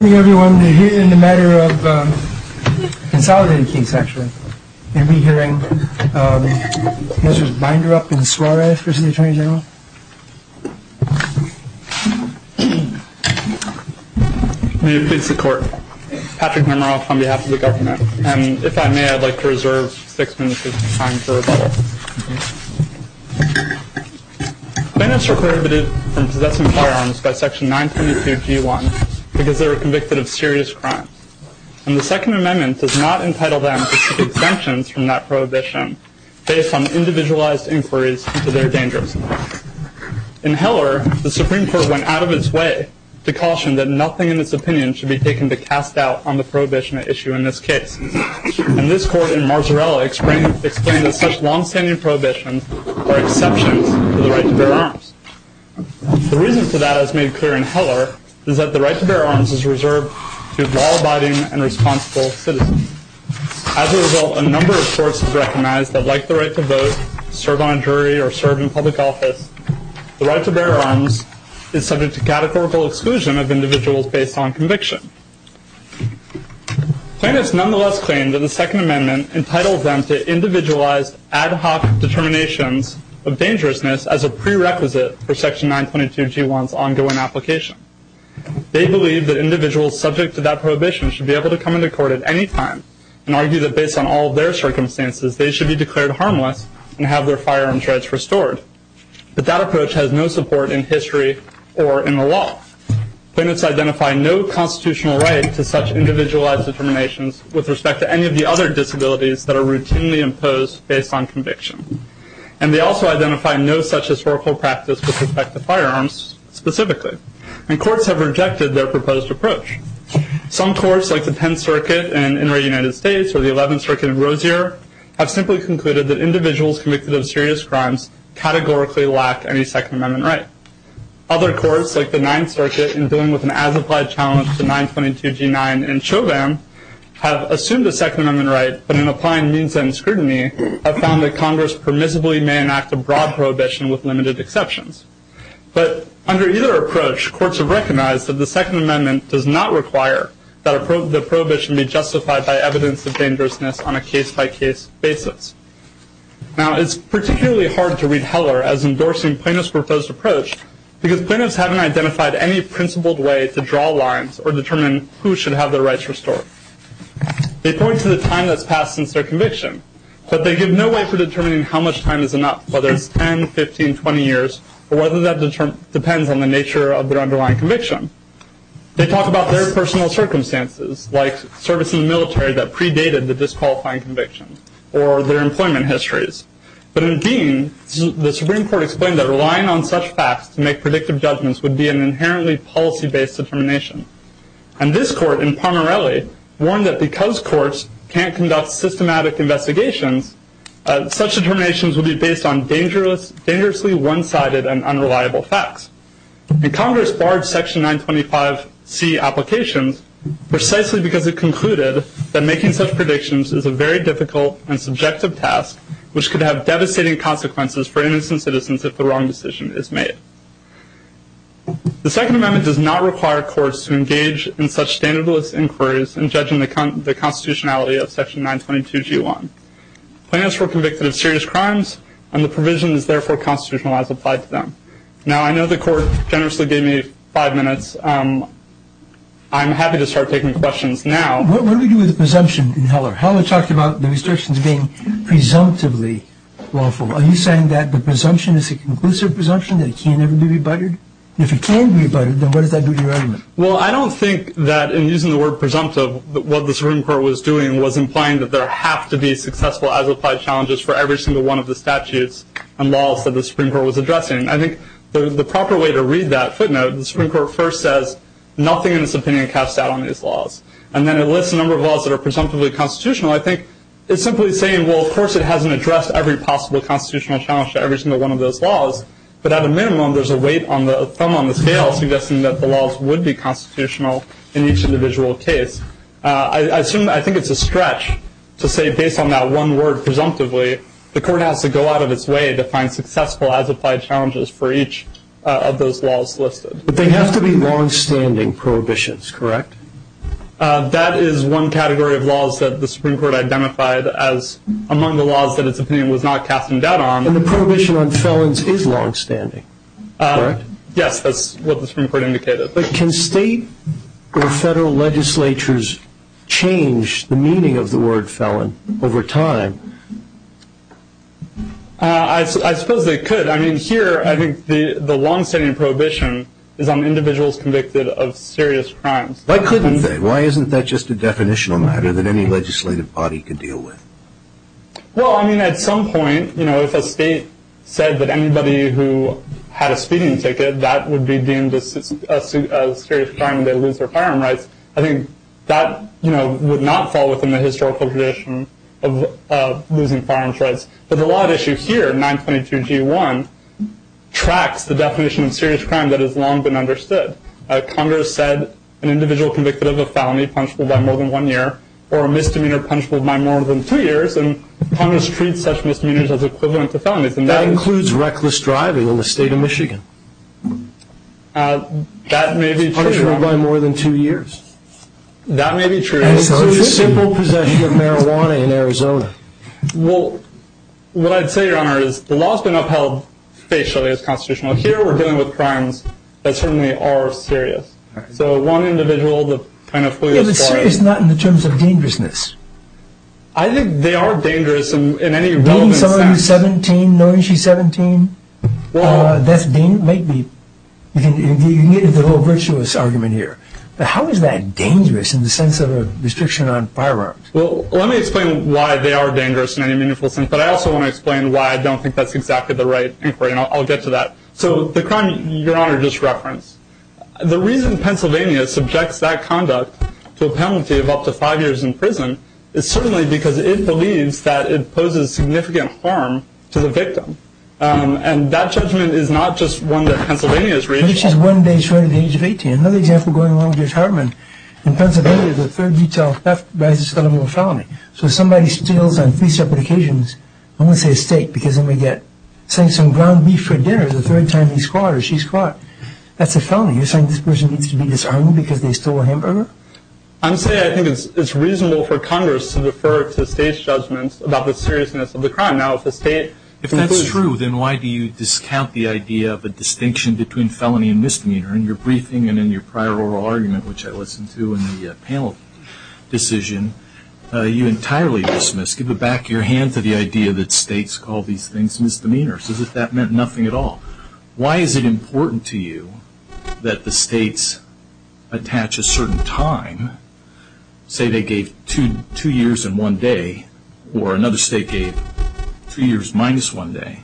Good evening everyone. We're here in the matter of a consolidated case, actually. You'll be hearing Mr. Binderup and Suarez versus the Attorney General. May it please the Court. Patrick Mimaroff on behalf of the government. And if I may, I'd like to reserve six minutes of time for rebuttal. Bandits were prohibited from possessing firearms by Section 922G1 because they were convicted of serious crimes. And the Second Amendment does not entitle them to seek exemptions from that prohibition based on individualized inquiries into their dangers. In Heller, the Supreme Court went out of its way to caution that nothing in its opinion should be taken to cast doubt on the prohibition at issue in this case. And this Court in Marzarella explained that such long-standing prohibitions are exceptions to the right to bear arms. The reason for that, as made clear in Heller, is that the right to bear arms is reserved to law-abiding and responsible citizens. As a result, a number of courts have recognized that, like the right to vote, serve on a jury, or serve in public office, the right to bear arms is subject to categorical exclusion of individuals based on conviction. Plaintiffs nonetheless claim that the Second Amendment entitles them to individualized, ad hoc determinations of dangerousness as a prerequisite for Section 922G1's ongoing application. They believe that individuals subject to that prohibition should be able to come into court at any time and argue that based on all of their circumstances, they should be declared harmless and have their firearms rights restored. But that approach has no support in history or in the law. Plaintiffs identify no constitutional right to such individualized determinations with respect to any of the other disabilities that are routinely imposed based on conviction. And they also identify no such historical practice with respect to firearms, specifically. And courts have rejected their proposed approach. Some courts, like the Penn Circuit in Inter-United States or the Eleventh Circuit of Rozier, have simply concluded that individuals convicted of serious crimes categorically lack any Second Amendment right. Other courts, like the Ninth Circuit in dealing with an as-applied challenge to 922G9 and Chauvin, have assumed a Second Amendment right, but in applying means and scrutiny, have found that Congress permissibly may enact a broad prohibition with limited exceptions. But under either approach, courts have recognized that the Second Amendment does not require that the prohibition be justified by evidence of dangerousness on a case-by-case basis. Now, it's particularly hard to read Heller as endorsing plaintiffs' proposed approach because plaintiffs haven't identified any principled way to draw lines or determine who should have their rights restored. They point to the time that's passed since their conviction, but they give no way for determining how much time is enough, whether it's 10, 15, 20 years, or whether that depends on the nature of their underlying conviction. They talk about their personal circumstances, like service in the military that predated the disqualifying conviction, or their employment histories. But in Dean, the Supreme Court explained that relying on such facts to make predictive judgments would be an inherently policy-based determination. And this court in Parmarelli warned that because courts can't conduct systematic investigations, such determinations would be based on dangerously one-sided and unreliable facts. And Congress barred Section 925C applications precisely because it concluded that making such predictions is a very difficult and subjective task, which could have devastating consequences for innocent citizens if the wrong decision is made. The Second Amendment does not require courts to engage in such standardless inquiries in judging the constitutionality of Section 922G1. Plaintiffs were convicted of serious crimes, and the provision is therefore constitutional as applied to them. Now, I know the court generously gave me five minutes. I'm happy to start taking questions now. What do we do with the presumption in Heller? Heller talked about the restrictions being presumptively lawful. Are you saying that the presumption is a conclusive presumption, that it can never be rebutted? And if it can be rebutted, then what does that do to your argument? Well, I don't think that in using the word presumptive, what the Supreme Court was doing was implying that there have to be successful as-applied challenges for every single one of the statutes and laws that the Supreme Court was addressing. I think the proper way to read that footnote, the Supreme Court first says, nothing in its opinion casts doubt on these laws. And then it lists a number of laws that are presumptively constitutional. I think it's simply saying, well, of course it hasn't addressed every possible constitutional challenge to every single one of those laws, but at a minimum, there's a weight, a thumb on the scale, suggesting that the laws would be constitutional in each individual case. I think it's a stretch to say, based on that one word, presumptively, the court has to go out of its way to find successful as-applied challenges for each of those laws listed. But they have to be longstanding prohibitions, correct? That is one category of laws that the Supreme Court identified as among the laws that its opinion was not casting doubt on. And the prohibition on felons is longstanding, correct? Yes, that's what the Supreme Court indicated. But can state or federal legislatures change the meaning of the word felon over time? I suppose they could. I mean, here, I think the longstanding prohibition is on individuals convicted of serious crimes. Why couldn't they? Why isn't that just a definitional matter that any legislative body could deal with? Well, I mean, at some point, you know, if a state said that anybody who had a speeding ticket, that would be deemed a serious crime, they'd lose their firearm rights. I think that, you know, would not fall within the historical tradition of losing firearms rights. But the law at issue here, 922G1, tracks the definition of serious crime that has long been understood. Congress said an individual convicted of a felony punishable by more than one year or a misdemeanor punishable by more than two years, and Congress treats such misdemeanors as equivalent to felonies. That includes reckless driving in the state of Michigan. That may be true. Punishable by more than two years. That may be true. So it's a simple possession of marijuana in Arizona. Well, what I'd say, Your Honor, is the law has been upheld facially as constitutional. Here, we're dealing with crimes that certainly are serious. So one individual that kind of flew this far. But serious is not in the terms of dangerousness. I think they are dangerous in any relevant sense. Dean, some of you, 17, knowing she's 17. Well. That's Dean, maybe. You can get into a little virtuous argument here. But how is that dangerous in the sense of a restriction on firearms? Well, let me explain why they are dangerous in any meaningful sense, but I also want to explain why I don't think that's exactly the right inquiry, and I'll get to that. So the crime Your Honor just referenced, the reason Pennsylvania subjects that conduct to a penalty of up to five years in prison is certainly because it believes that it poses significant harm to the victim. And that judgment is not just one that Pennsylvania has reached. But if she's one day short of the age of 18, another example going along with yours, Herman, in Pennsylvania, the third detail theft rises to the level of felony. So if somebody steals on three separate occasions, I'm going to say a steak because then we get saying some ground beef for dinner the third time he's caught or she's caught. That's a felony. You're saying this person needs to be disarmed because they stole a hamburger? I'm saying I think it's reasonable for Congress to refer to state's judgments about the seriousness of the crime. Now, if the state. If that's true, then why do you discount the idea of a distinction between felony and misdemeanor? In your briefing and in your prior oral argument, which I listened to in the panel decision, you entirely dismiss, give back your hand to the idea that states call these things misdemeanors, as if that meant nothing at all. Why is it important to you that the states attach a certain time, say they gave two years and one day, or another state gave two years minus one day?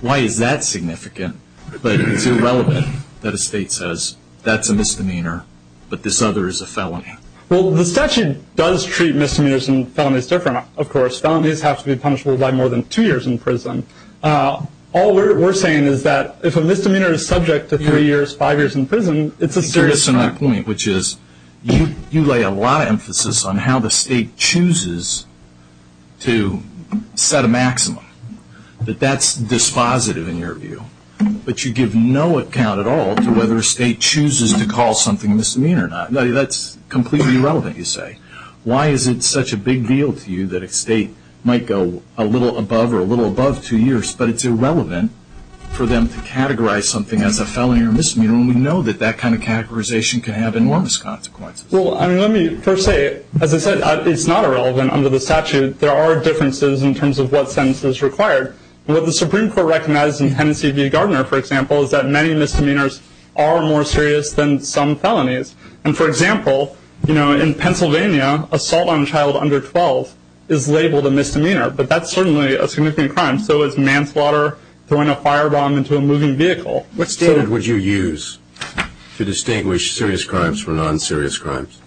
Why is that significant? But it's irrelevant that a state says that's a misdemeanor, but this other is a felony. Well, the statute does treat misdemeanors and felonies different, of course. Felonies have to be punishable by more than two years in prison. All we're saying is that if a misdemeanor is subject to three years, five years in prison, It's a serious point, which is you lay a lot of emphasis on how the state chooses to set a maximum, that that's dispositive in your view, but you give no account at all to whether a state chooses to call something a misdemeanor or not. That's completely irrelevant, you say. Why is it such a big deal to you that a state might go a little above or a little above two years, but it's irrelevant for them to categorize something as a felony or a misdemeanor when we know that that kind of categorization can have enormous consequences? Well, let me first say, as I said, it's not irrelevant under the statute. There are differences in terms of what sentence is required. What the Supreme Court recognized in Tennessee v. Gardner, for example, is that many misdemeanors are more serious than some felonies. For example, in Pennsylvania, assault on a child under 12 is labeled a misdemeanor, but that's certainly a significant crime. So is manslaughter, throwing a firebomb into a moving vehicle. What standard would you use to distinguish serious crimes from non-serious crimes?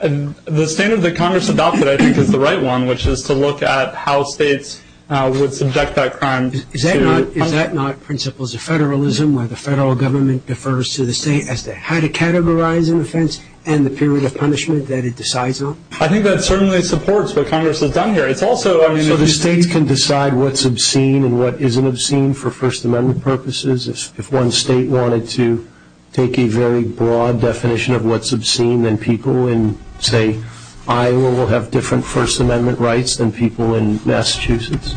The standard that Congress adopted, I think, is the right one, which is to look at how states would subject that crime. Is that not principles of federalism where the federal government defers to the state as to how to categorize an offense and the period of punishment that it decides on? I think that certainly supports what Congress has done here. So the states can decide what's obscene and what isn't obscene for First Amendment purposes? If one state wanted to take a very broad definition of what's obscene, then people in, say, Iowa will have different First Amendment rights than people in Massachusetts.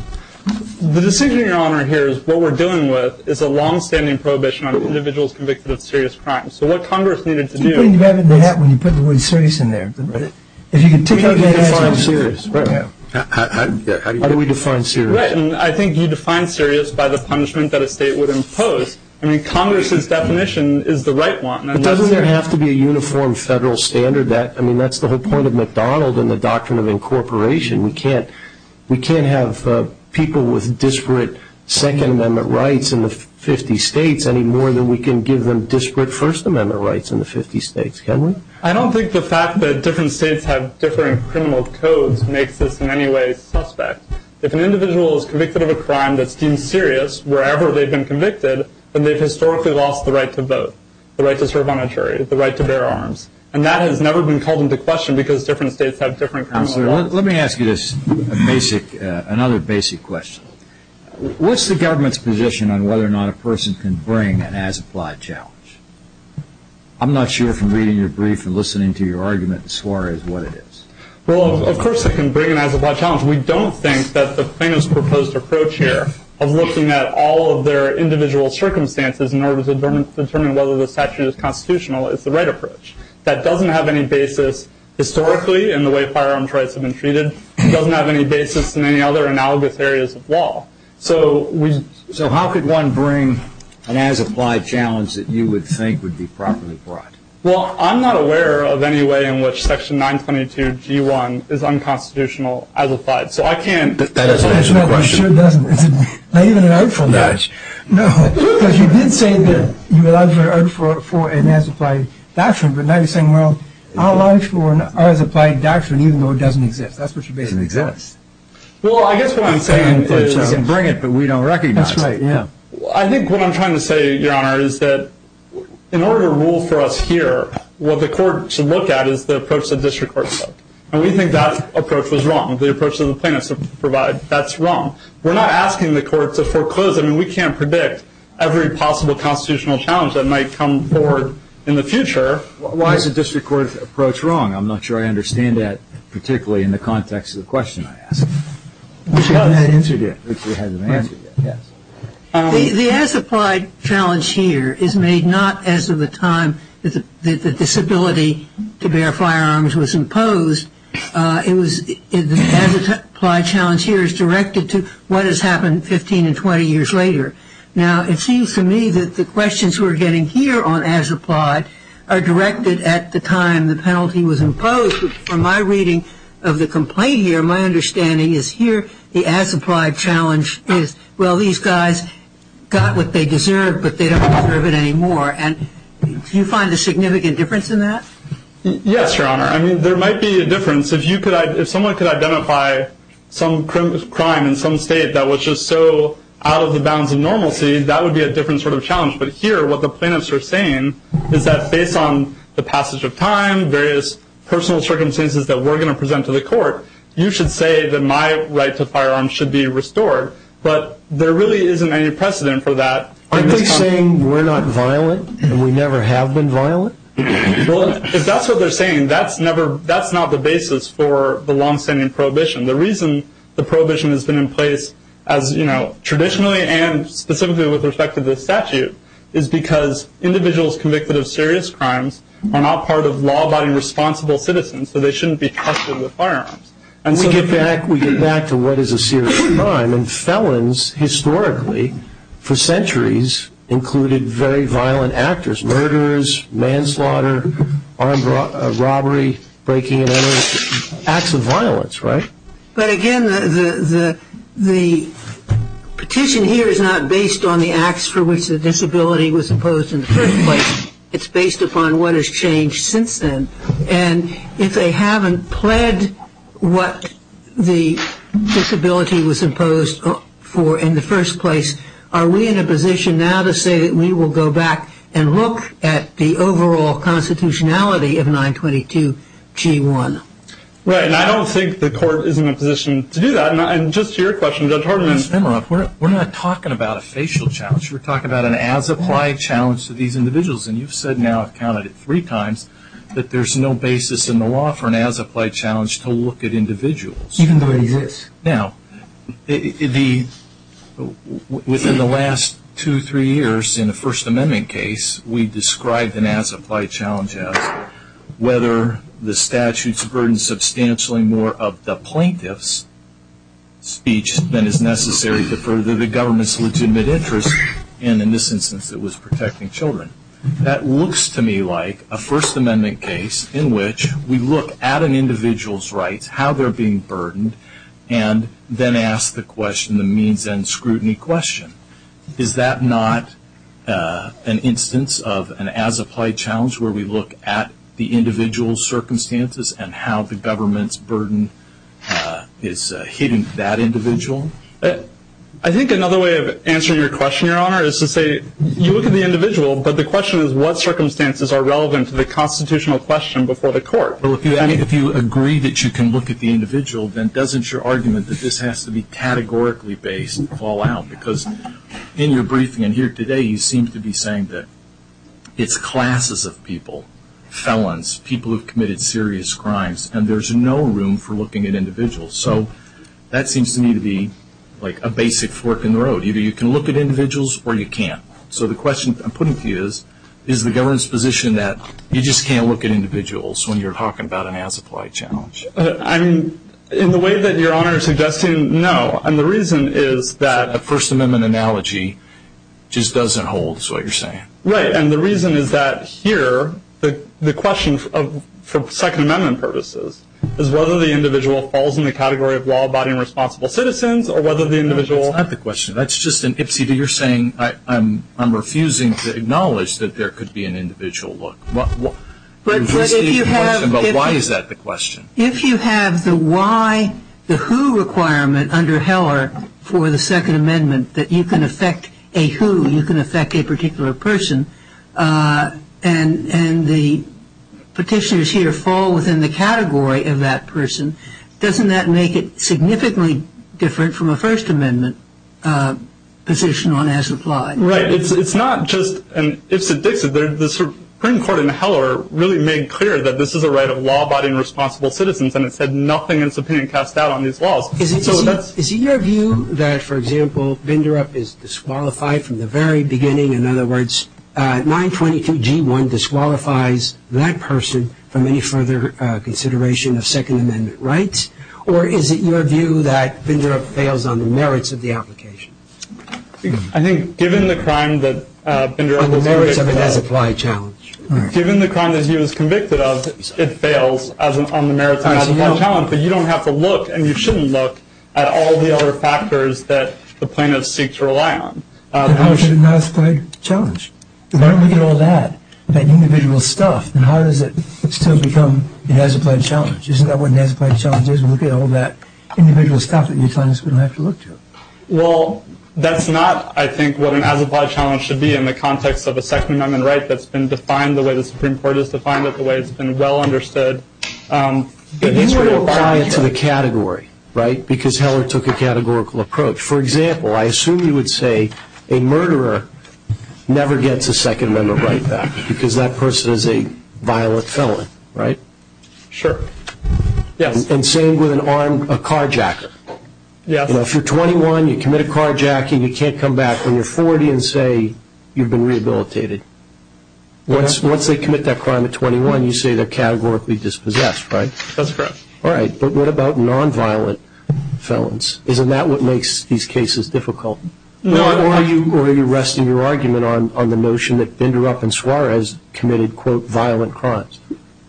The decision, Your Honor, here is what we're dealing with is a longstanding prohibition on individuals convicted of serious crimes. So what Congress needed to do— Why are you putting your hat in the hat when you put the word serious in there? If you could take out your hat— How do we define serious? How do we define serious? I think you define serious by the punishment that a state would impose. I mean, Congress's definition is the right one. But doesn't there have to be a uniform federal standard? I mean, that's the whole point of McDonald and the doctrine of incorporation. We can't have people with disparate Second Amendment rights in the 50 states any more than we can give them disparate First Amendment rights in the 50 states, can we? I don't think the fact that different states have different criminal codes makes this in any way suspect. If an individual is convicted of a crime that's deemed serious wherever they've been convicted, then they've historically lost the right to vote, the right to serve on a jury, the right to bear arms. And that has never been called into question because different states have different criminal rights. Counselor, let me ask you another basic question. What's the government's position on whether or not a person can bring an as-applied challenge? I'm not sure from reading your brief and listening to your argument as far as what it is. Well, of course it can bring an as-applied challenge. We don't think that the plaintiff's proposed approach here of looking at all of their individual circumstances in order to determine whether this action is constitutional is the right approach. That doesn't have any basis historically in the way firearms rights have been treated. It doesn't have any basis in any other analogous areas of law. So how could one bring an as-applied challenge that you would think would be properly brought? Well, I'm not aware of any way in which Section 922G1 is unconstitutional as-applied. So I can't. That is an excellent question. It sure doesn't. It's not even an article. No. Because you did say that you allowed for an as-applied doctrine, but now you're saying, well, I'll allow for an as-applied doctrine even though it doesn't exist. That's what you're basing it on. It doesn't exist. Well, I guess what I'm saying is that we can bring it, but we don't recognize it. That's right, yeah. I think what I'm trying to say, Your Honor, is that in order to rule for us here, what the court should look at is the approach that district courts took. And we think that approach was wrong, the approach that the plaintiffs have provided. That's wrong. We're not asking the court to foreclose. I mean, we can't predict every possible constitutional challenge that might come forward in the future. Why is the district court's approach wrong? I'm not sure I understand that, particularly in the context of the question I asked. Which it hasn't answered yet. Which it hasn't answered yet, yes. The as-applied challenge here is made not as of the time that the disability to bear firearms was imposed. The as-applied challenge here is directed to what has happened 15 and 20 years later. Now, it seems to me that the questions we're getting here on as-applied are directed at the time when the penalty was imposed, but from my reading of the complaint here, my understanding is here the as-applied challenge is, well, these guys got what they deserved, but they don't deserve it anymore. And do you find a significant difference in that? Yes, Your Honor. I mean, there might be a difference. If someone could identify some crime in some state that was just so out of the bounds of normalcy, that would be a different sort of challenge. But here what the plaintiffs are saying is that based on the passage of time, various personal circumstances that we're going to present to the court, you should say that my right to firearms should be restored. But there really isn't any precedent for that. Aren't they saying we're not violent and we never have been violent? If that's what they're saying, that's not the basis for the long-standing prohibition. The reason the prohibition has been in place as, you know, traditionally and specifically with respect to this statute is because individuals convicted of serious crimes are not part of law-abiding responsible citizens, so they shouldn't be tested with firearms. And so we get back to what is a serious crime, and felons historically for centuries included very violent actors, murderers, manslaughter, armed robbery, breaking and entering, acts of violence, right? But again, the petition here is not based on the acts for which the disability was imposed in the first place. It's based upon what has changed since then. And if they haven't pled what the disability was imposed for in the first place, are we in a position now to say that we will go back and look at the overall constitutionality of 922G1? Right, and I don't think the court is in a position to do that. And just to your question, Judge Hartman. We're not talking about a facial challenge. We're talking about an as-applied challenge to these individuals. And you've said now, I've counted it three times, that there's no basis in the law for an as-applied challenge to look at individuals. Even though it exists. Now, within the last two, three years in a First Amendment case, we described an as-applied challenge as whether the statute's burden substantially more of the plaintiff's speech than is necessary to further the government's legitimate interest, and in this instance it was protecting children. That looks to me like a First Amendment case in which we look at an individual's rights, how they're being burdened, and then ask the question, the means and scrutiny question. Is that not an instance of an as-applied challenge where we look at the individual's circumstances and how the government's burden is hidden to that individual? I think another way of answering your question, Your Honor, is to say you look at the individual, but the question is what circumstances are relevant to the constitutional question before the court. Well, if you agree that you can look at the individual, then doesn't your argument that this has to be categorically based fall out? Because in your briefing and here today, you seem to be saying that it's classes of people, felons, people who have committed serious crimes, and there's no room for looking at individuals. So that seems to me to be like a basic fork in the road. Either you can look at individuals or you can't. So the question I'm putting to you is, is the government's position that you just can't look at individuals when you're talking about an as-applied challenge? I mean, in the way that Your Honor is suggesting, no. And the reason is that a First Amendment analogy just doesn't hold is what you're saying. Right, and the reason is that here the question for Second Amendment purposes is whether the individual falls in the category of law-abiding responsible citizens or whether the individual That's not the question. That's just an ipsy. You're saying I'm refusing to acknowledge that there could be an individual look. But why is that the question? If you have the why, the who requirement under Heller for the Second Amendment that you can affect a who, you can affect a particular person, and the petitioners here fall within the category of that person, doesn't that make it significantly different from a First Amendment position on as-applied? Right. It's not just an ipsy-dixy. The Supreme Court in Heller really made clear that this is a right of law-abiding responsible citizens, and it said nothing in its opinion cast doubt on these laws. Is it your view that, for example, Binderup is disqualified from the very beginning, in other words, 922G1 disqualifies that person from any further consideration of Second Amendment rights, or is it your view that Binderup fails on the merits of the application? I think given the crime that Binderup was convicted of. On the merits of an as-applied challenge. Given the crime that he was convicted of, it fails on the merits of an as-applied challenge, but you don't have to look and you shouldn't look at all the other factors that the plaintiffs seek to rely on. How is it an as-applied challenge? Why don't we get all that, that individual stuff, and how does it still become an as-applied challenge? Isn't that what an as-applied challenge is? We'll get all that individual stuff that the plaintiffs wouldn't have to look to. Well, that's not, I think, what an as-applied challenge should be in the context of a Second Amendment right that's been defined the way the Supreme Court has defined it, the way it's been well understood. But you would apply it to the category, right, because Heller took a categorical approach. For example, I assume you would say a murderer never gets a Second Amendment right back because that person is a violent felon, right? Sure, yes. And same with a carjacker. If you're 21, you commit a carjacking, you can't come back when you're 40 and say you've been rehabilitated. Once they commit that crime at 21, you say they're categorically dispossessed, right? That's correct. All right, but what about nonviolent felons? Isn't that what makes these cases difficult? Or are you resting your argument on the notion that Binderup and Suarez committed, quote, violent crimes?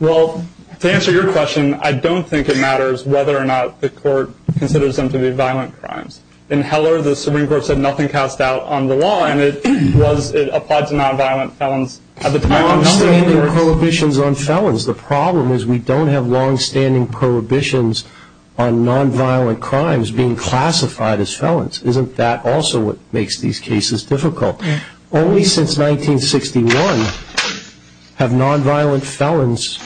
Well, to answer your question, I don't think it matters whether or not the court considers them to be violent crimes. In Heller, the Supreme Court said nothing passed out on the law, and it applied to nonviolent felons. Longstanding prohibitions on felons. The problem is we don't have longstanding prohibitions on nonviolent crimes being classified as felons. Isn't that also what makes these cases difficult? Only since 1961 have nonviolent felons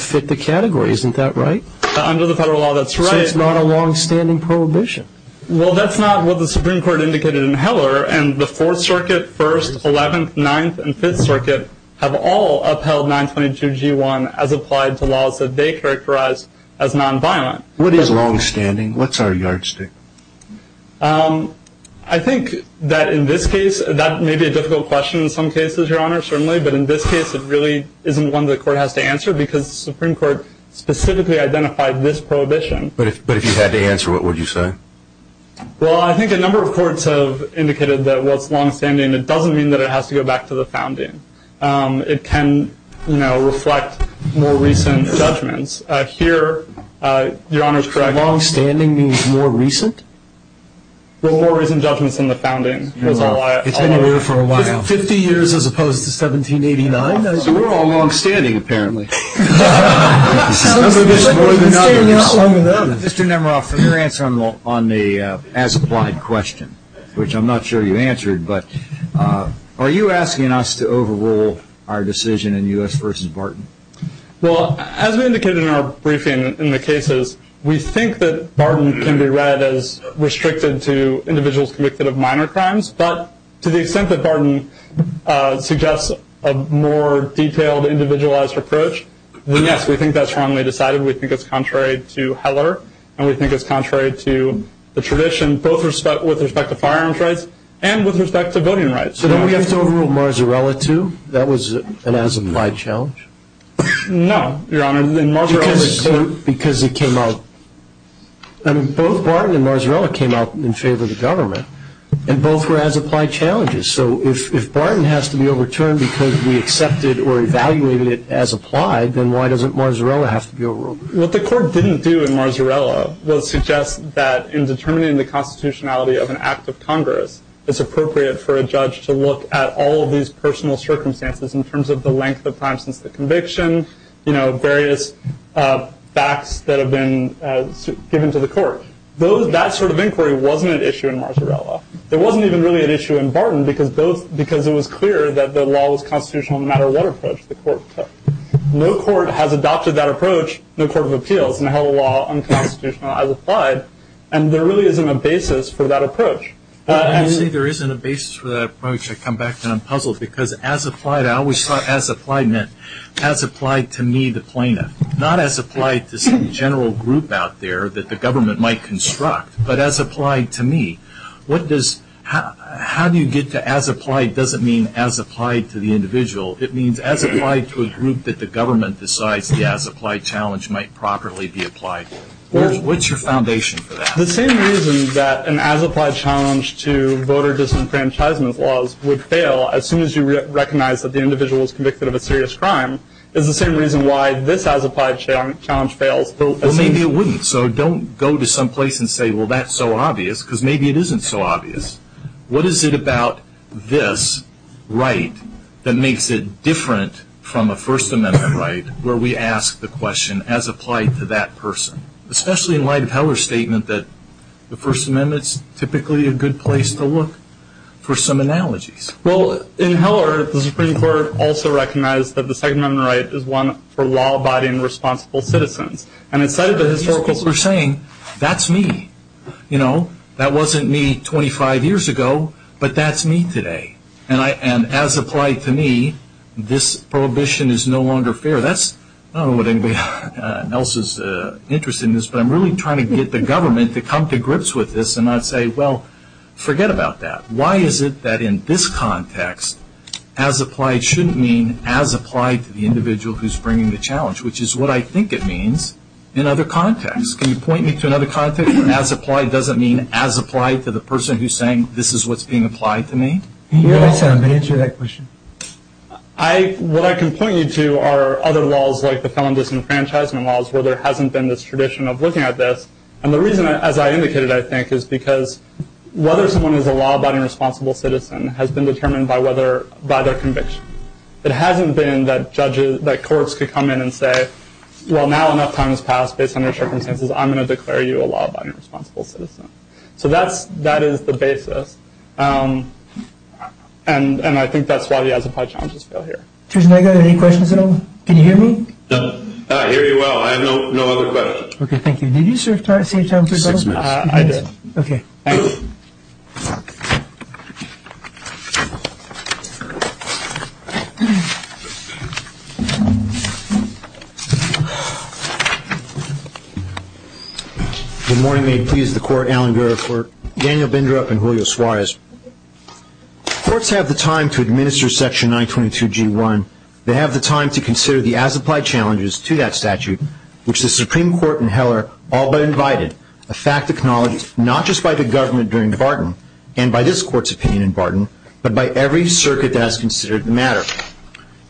fit the category. Isn't that right? Under the federal law, that's right. So it's not a longstanding prohibition. Well, that's not what the Supreme Court indicated in Heller. And the Fourth Circuit, First, Eleventh, Ninth, and Fifth Circuit have all upheld 922G1 as applied to laws that they characterize as nonviolent. What is longstanding? What's our yardstick? I think that in this case, that may be a difficult question in some cases, Your Honor, certainly. But in this case, it really isn't one the court has to answer because the Supreme Court specifically identified this prohibition. But if you had to answer, what would you say? Well, I think a number of courts have indicated that while it's longstanding, it doesn't mean that it has to go back to the founding. It can reflect more recent judgments. Here, Your Honor is correct. Longstanding means more recent? Well, more recent judgments than the founding. It's been there for a while. Isn't 50 years as opposed to 1789? So we're all longstanding, apparently. Mr. Nemerov, for your answer on the as applied question, which I'm not sure you answered, but are you asking us to overrule our decision in U.S. v. Barton? Well, as we indicated in our briefing in the cases, we think that Barton can be read as restricted to individuals convicted of minor crimes. But to the extent that Barton suggests a more detailed, individualized approach, then yes, we think that's wrongly decided. We think it's contrary to Heller, and we think it's contrary to the tradition, both with respect to firearms rights and with respect to voting rights. So don't we have to overrule Marzarella, too? That was an as applied challenge. No, Your Honor. Because it came out. Both Barton and Marzarella came out in favor of the government, and both were as applied challenges. So if Barton has to be overturned because we accepted or evaluated it as applied, then why doesn't Marzarella have to be overruled? What the Court didn't do in Marzarella was suggest that in determining the constitutionality of an act of Congress, it's appropriate for a judge to look at all of these personal circumstances in terms of the length of time since the conviction, various facts that have been given to the Court. That sort of inquiry wasn't an issue in Marzarella. It wasn't even really an issue in Barton because it was clear that the law was constitutional no matter what approach the Court took. No court has adopted that approach, no court of appeals in Heller law unconstitutional as applied, and there really isn't a basis for that approach. When you say there isn't a basis for that approach, I come back and I'm puzzled because as applied, I always thought as applied meant as applied to me the plaintiff, not as applied to some general group out there that the government might construct, but as applied to me. How do you get to as applied doesn't mean as applied to the individual. It means as applied to a group that the government decides the as applied challenge might properly be applied. What's your foundation for that? The same reason that an as applied challenge to voter disenfranchisement laws would fail as soon as you recognize that the individual is convicted of a serious crime is the same reason why this as applied challenge fails. Well, maybe it wouldn't, so don't go to some place and say, well, that's so obvious because maybe it isn't so obvious. What is it about this right that makes it different from a First Amendment right where we ask the question as applied to that person, especially in light of Heller's statement that the First Amendment is typically a good place to look for some analogies? Well, in Heller, the Supreme Court also recognized that the Second Amendment right is one for law-abiding, responsible citizens. And in sight of the historical, we're saying, that's me. That wasn't me 25 years ago, but that's me today. And as applied to me, this prohibition is no longer fair. So that's, I don't know what anybody else's interest in this, but I'm really trying to get the government to come to grips with this and not say, well, forget about that. Why is it that in this context, as applied shouldn't mean as applied to the individual who's bringing the challenge, which is what I think it means in other contexts. Can you point me to another context where as applied doesn't mean as applied to the person who's saying this is what's being applied to me? Can you hear that sound? Can you answer that question? What I can point you to are other laws, like the felon disenfranchisement laws, where there hasn't been this tradition of looking at this. And the reason, as I indicated, I think, is because whether someone is a law-abiding, responsible citizen has been determined by their conviction. It hasn't been that courts could come in and say, well, now enough time has passed, based on your circumstances, I'm going to declare you a law-abiding, responsible citizen. So that is the basis. And I think that's why the as-applied challenges fail here. Judge Nega, are there any questions at all? Can you hear me? I hear you well. I have no other questions. Okay, thank you. Did you, sir, try to save time for yourself? Six minutes. I did. Okay. Thank you. Thank you. Good morning. May it please the Court, Alan Guerra for Daniel Bindrup and Julio Suarez. Courts have the time to administer Section 922G1. They have the time to consider the as-applied challenges to that statute, which the Supreme Court in Heller all but invited, a fact acknowledged not just by the government during the bargain, and by this Court's opinion in bargain, but by every circuit that has considered the matter.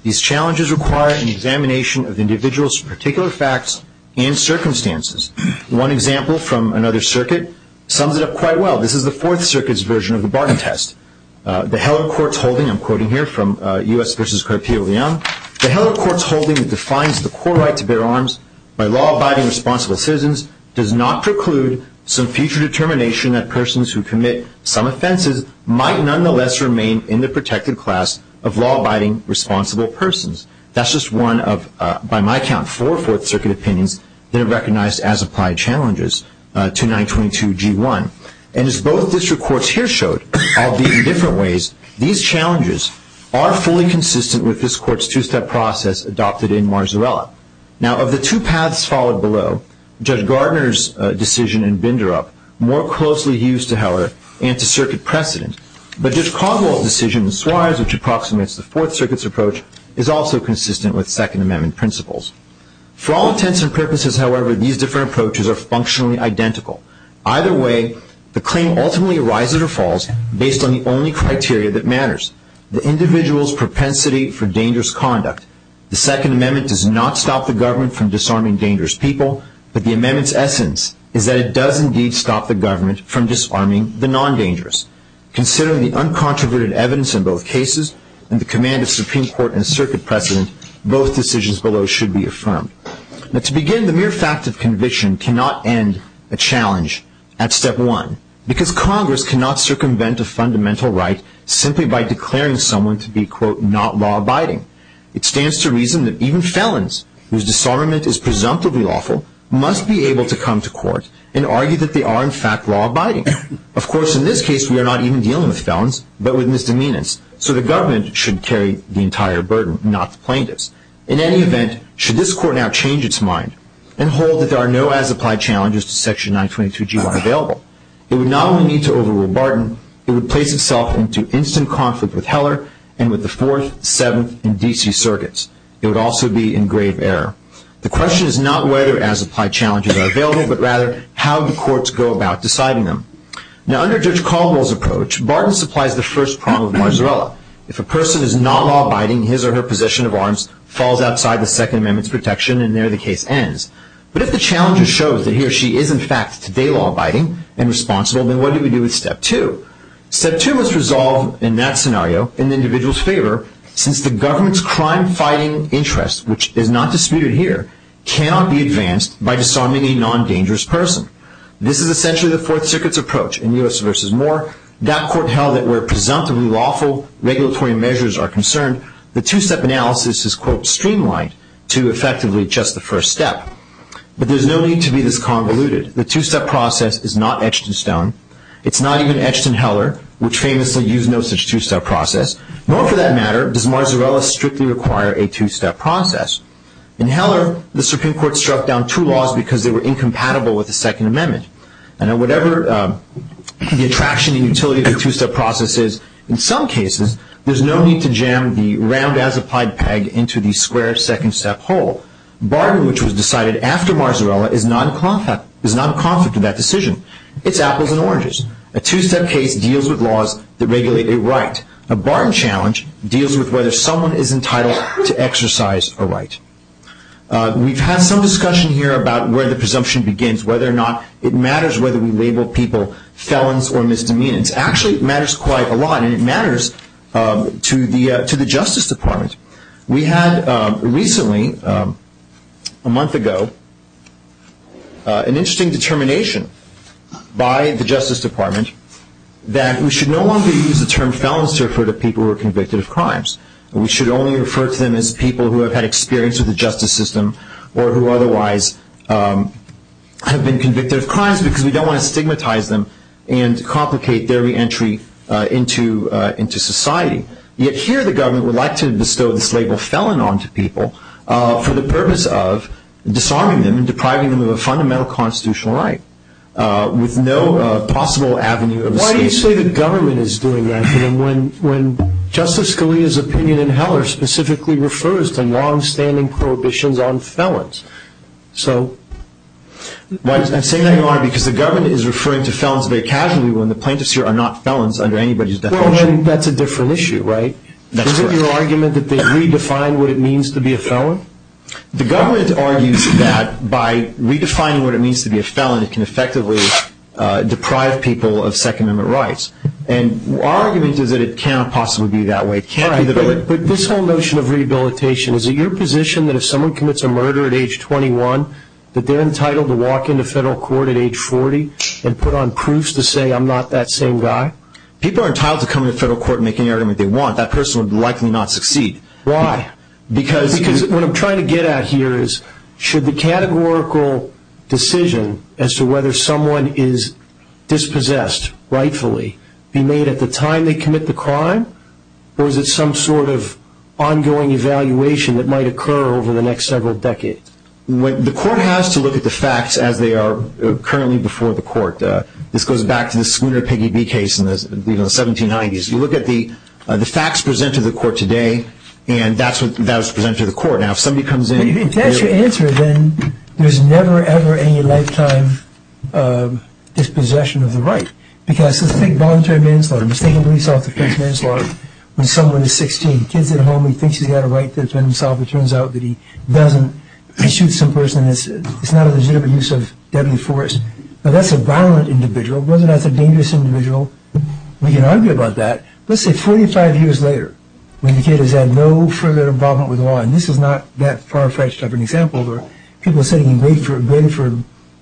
These challenges require an examination of individuals' particular facts and circumstances. One example from another circuit sums it up quite well. This is the Fourth Circuit's version of the bargain test. The Heller Court's holding, I'm quoting here from U.S. v. Carpio Leone, The Heller Court's holding that defines the core right to bear arms by law-abiding responsible citizens does not preclude some future determination that persons who commit some offenses might nonetheless remain in the protected class of law-abiding responsible persons. That's just one of, by my count, four Fourth Circuit opinions that are recognized as applied challenges to 922G1. And as both district courts here showed, albeit in different ways, these challenges are fully consistent with this Court's two-step process adopted in Marzarella. Now, of the two paths followed below, Judge Gardner's decision in Binderup more closely hews to, however, anti-circuit precedent. But Judge Caldwell's decision in Suarez, which approximates the Fourth Circuit's approach, is also consistent with Second Amendment principles. For all intents and purposes, however, these different approaches are functionally identical. Either way, the claim ultimately arises or falls based on the only criteria that matters, the individual's propensity for dangerous conduct. The Second Amendment does not stop the government from disarming dangerous people, but the Amendment's essence is that it does indeed stop the government from disarming the non-dangerous. Considering the uncontroverted evidence in both cases and the command of Supreme Court and Circuit precedent, both decisions below should be affirmed. Now, to begin, the mere fact of conviction cannot end a challenge at step one, because Congress cannot circumvent a fundamental right simply by declaring someone to be, quote, not law-abiding. It stands to reason that even felons, whose disarmament is presumptively lawful, must be able to come to court and argue that they are, in fact, law-abiding. Of course, in this case, we are not even dealing with felons, but with misdemeanors, so the government should carry the entire burden, not the plaintiffs. In any event, should this Court now change its mind and hold that there are no as-applied challenges to Section 922G1 available, it would not only need to overrule Barton, it would place itself into instant conflict with Heller and with the Fourth, Seventh, and D.C. Circuits. It would also be in grave error. The question is not whether as-applied challenges are available, but rather how the courts go about deciding them. Now, under Judge Caldwell's approach, Barton supplies the first prong of Marzarella. If a person is not law-abiding, his or her possession of arms falls outside the Second Amendment's protection, and there, the case ends. But if the challenge shows that he or she is, in fact, today law-abiding and responsible, then what do we do with Step 2? Step 2 must resolve, in that scenario, in the individual's favor, since the government's crime-fighting interest, which is not disputed here, cannot be advanced by disarming a non-dangerous person. This is essentially the Fourth Circuit's approach in U.S. v. Moore. That court held that where presumptively lawful regulatory measures are concerned, the two-step analysis is, quote, streamlined to effectively adjust the first step. But there's no need to be this convoluted. The two-step process is not etched in stone. It's not even etched in Heller, which famously used no such two-step process. Nor, for that matter, does Marzarella strictly require a two-step process. In Heller, the Supreme Court struck down two laws because they were incompatible with the Second Amendment. And whatever the attraction and utility of the two-step process is, in some cases, there's no need to jam the round-as-applied peg into the square second-step hole. Bargain, which was decided after Marzarella, is not in conflict with that decision. It's apples and oranges. A two-step case deals with laws that regulate a right. A bargain challenge deals with whether someone is entitled to exercise a right. We've had some discussion here about where the presumption begins, whether or not it matters whether we label people felons or misdemeanants. Actually, it matters quite a lot, and it matters to the Justice Department. We had recently, a month ago, an interesting determination by the Justice Department that we should no longer use the term felons to refer to people who are convicted of crimes. We should only refer to them as people who have had experience with the justice system or who otherwise have been convicted of crimes because we don't want to stigmatize them and complicate their reentry into society. Yet here the government would like to bestow this label felon on to people for the purpose of disarming them and depriving them of a fundamental constitutional right with no possible avenue of escape. Why do you say the government is doing that when Justice Scalia's opinion in Heller specifically refers to long-standing prohibitions on felons? I'm saying that, Your Honor, because the government is referring to felons very casually when the plaintiffs here are not felons under anybody's definition. Well, then that's a different issue, right? That's correct. Isn't your argument that they've redefined what it means to be a felon? The government argues that by redefining what it means to be a felon, it can effectively deprive people of Second Amendment rights. And our argument is that it cannot possibly be that way. But this whole notion of rehabilitation, is it your position that if someone commits a murder at age 21, that they're entitled to walk into federal court at age 40 and put on proofs to say I'm not that same guy? People are entitled to come into federal court and make any argument they want. That person would likely not succeed. Why? Because what I'm trying to get at here is, should the categorical decision as to whether someone is dispossessed rightfully be made at the time they commit the crime? Or is it some sort of ongoing evaluation that might occur over the next several decades? The court has to look at the facts as they are currently before the court. This goes back to the Schooner-Piggyby case in the 1790s. You look at the facts presented to the court today, and that's what's presented to the court. Now, if somebody comes in and- If that's your answer, then there's never, ever any lifetime dispossession of the right. Because, let's take voluntary manslaughter. Let's take a police officer's manslaughter when someone is 16. Kids at home, he thinks he's got a right to defend himself. It turns out that he doesn't. He shoots some person. It's not a legitimate use of deadly force. Now, that's a violent individual. Whether or not it's a dangerous individual, we can argue about that. Let's say 45 years later, when the kid has had no further involvement with the law, and this is not that far-fetched of an example, where people are sitting and waiting for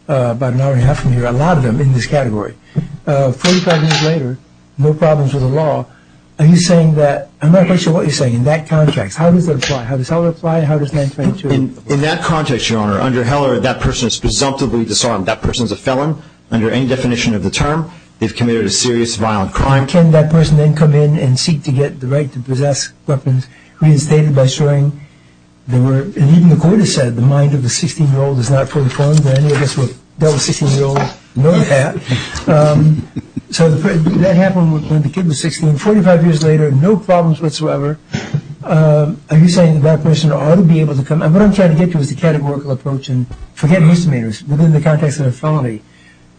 about an hour and a half from here, a lot of them in this category. Forty-five years later, no problems with the law. Are you saying that- I'm not quite sure what you're saying in that context. How does that apply? How does that apply? How does manslaughter- In that context, Your Honor, under Heller, that person is presumptively disarmed. That person is a felon under any definition of the term. They've committed a serious violent crime. Can that person then come in and seek to get the right to possess weapons reinstated by showing they were- and even the court has said the mind of a 16-year-old is not fully formed, and any of us who have dealt with 16-year-olds know that. So that happened when the kid was 16. Forty-five years later, no problems whatsoever. Are you saying that person ought to be able to come- and what I'm trying to get to is the categorical approach, and forget misdemeanors within the context of a felony.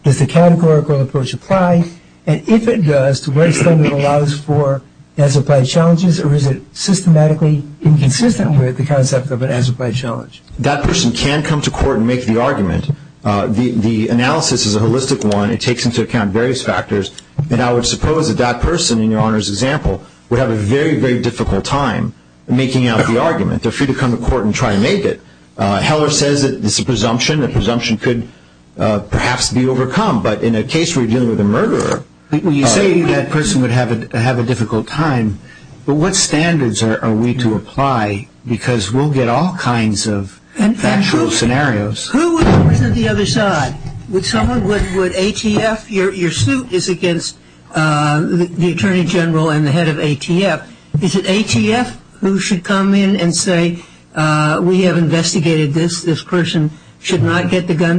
Does the categorical approach apply? And if it does, to what extent does it allow for as-applied challenges, or is it systematically inconsistent with the concept of an as-applied challenge? That person can come to court and make the argument. The analysis is a holistic one. It takes into account various factors, and I would suppose that that person, in Your Honor's example, would have a very, very difficult time making out the argument. They're free to come to court and try to make it. Heller says it's a presumption. The presumption could perhaps be overcome, but in a case where you're dealing with a murderer, you say that person would have a difficult time, but what standards are we to apply? Because we'll get all kinds of factual scenarios. Who would represent the other side? Would someone- would ATF- your suit is against the Attorney General and the head of ATF. Is it ATF who should come in and say, We have investigated this. This person should not get the gun.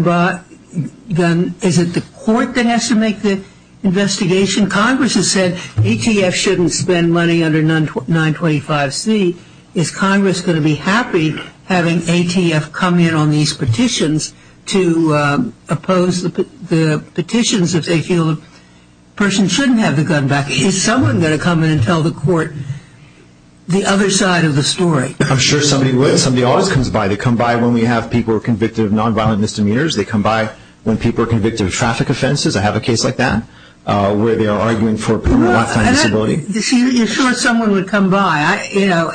Is it the court that has to make the investigation? Congress has said ATF shouldn't spend money under 925C. Is Congress going to be happy having ATF come in on these petitions to oppose the petitions if they feel a person shouldn't have the gun back? Is someone going to come in and tell the court the other side of the story? I'm sure somebody would. Somebody always comes by. They come by when we have people convicted of nonviolent misdemeanors. They come by when people are convicted of traffic offenses. I have a case like that where they are arguing for a lifetime disability. You're sure someone would come by?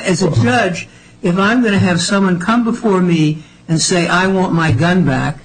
As a judge, if I'm going to have someone come before me and say I want my gun back,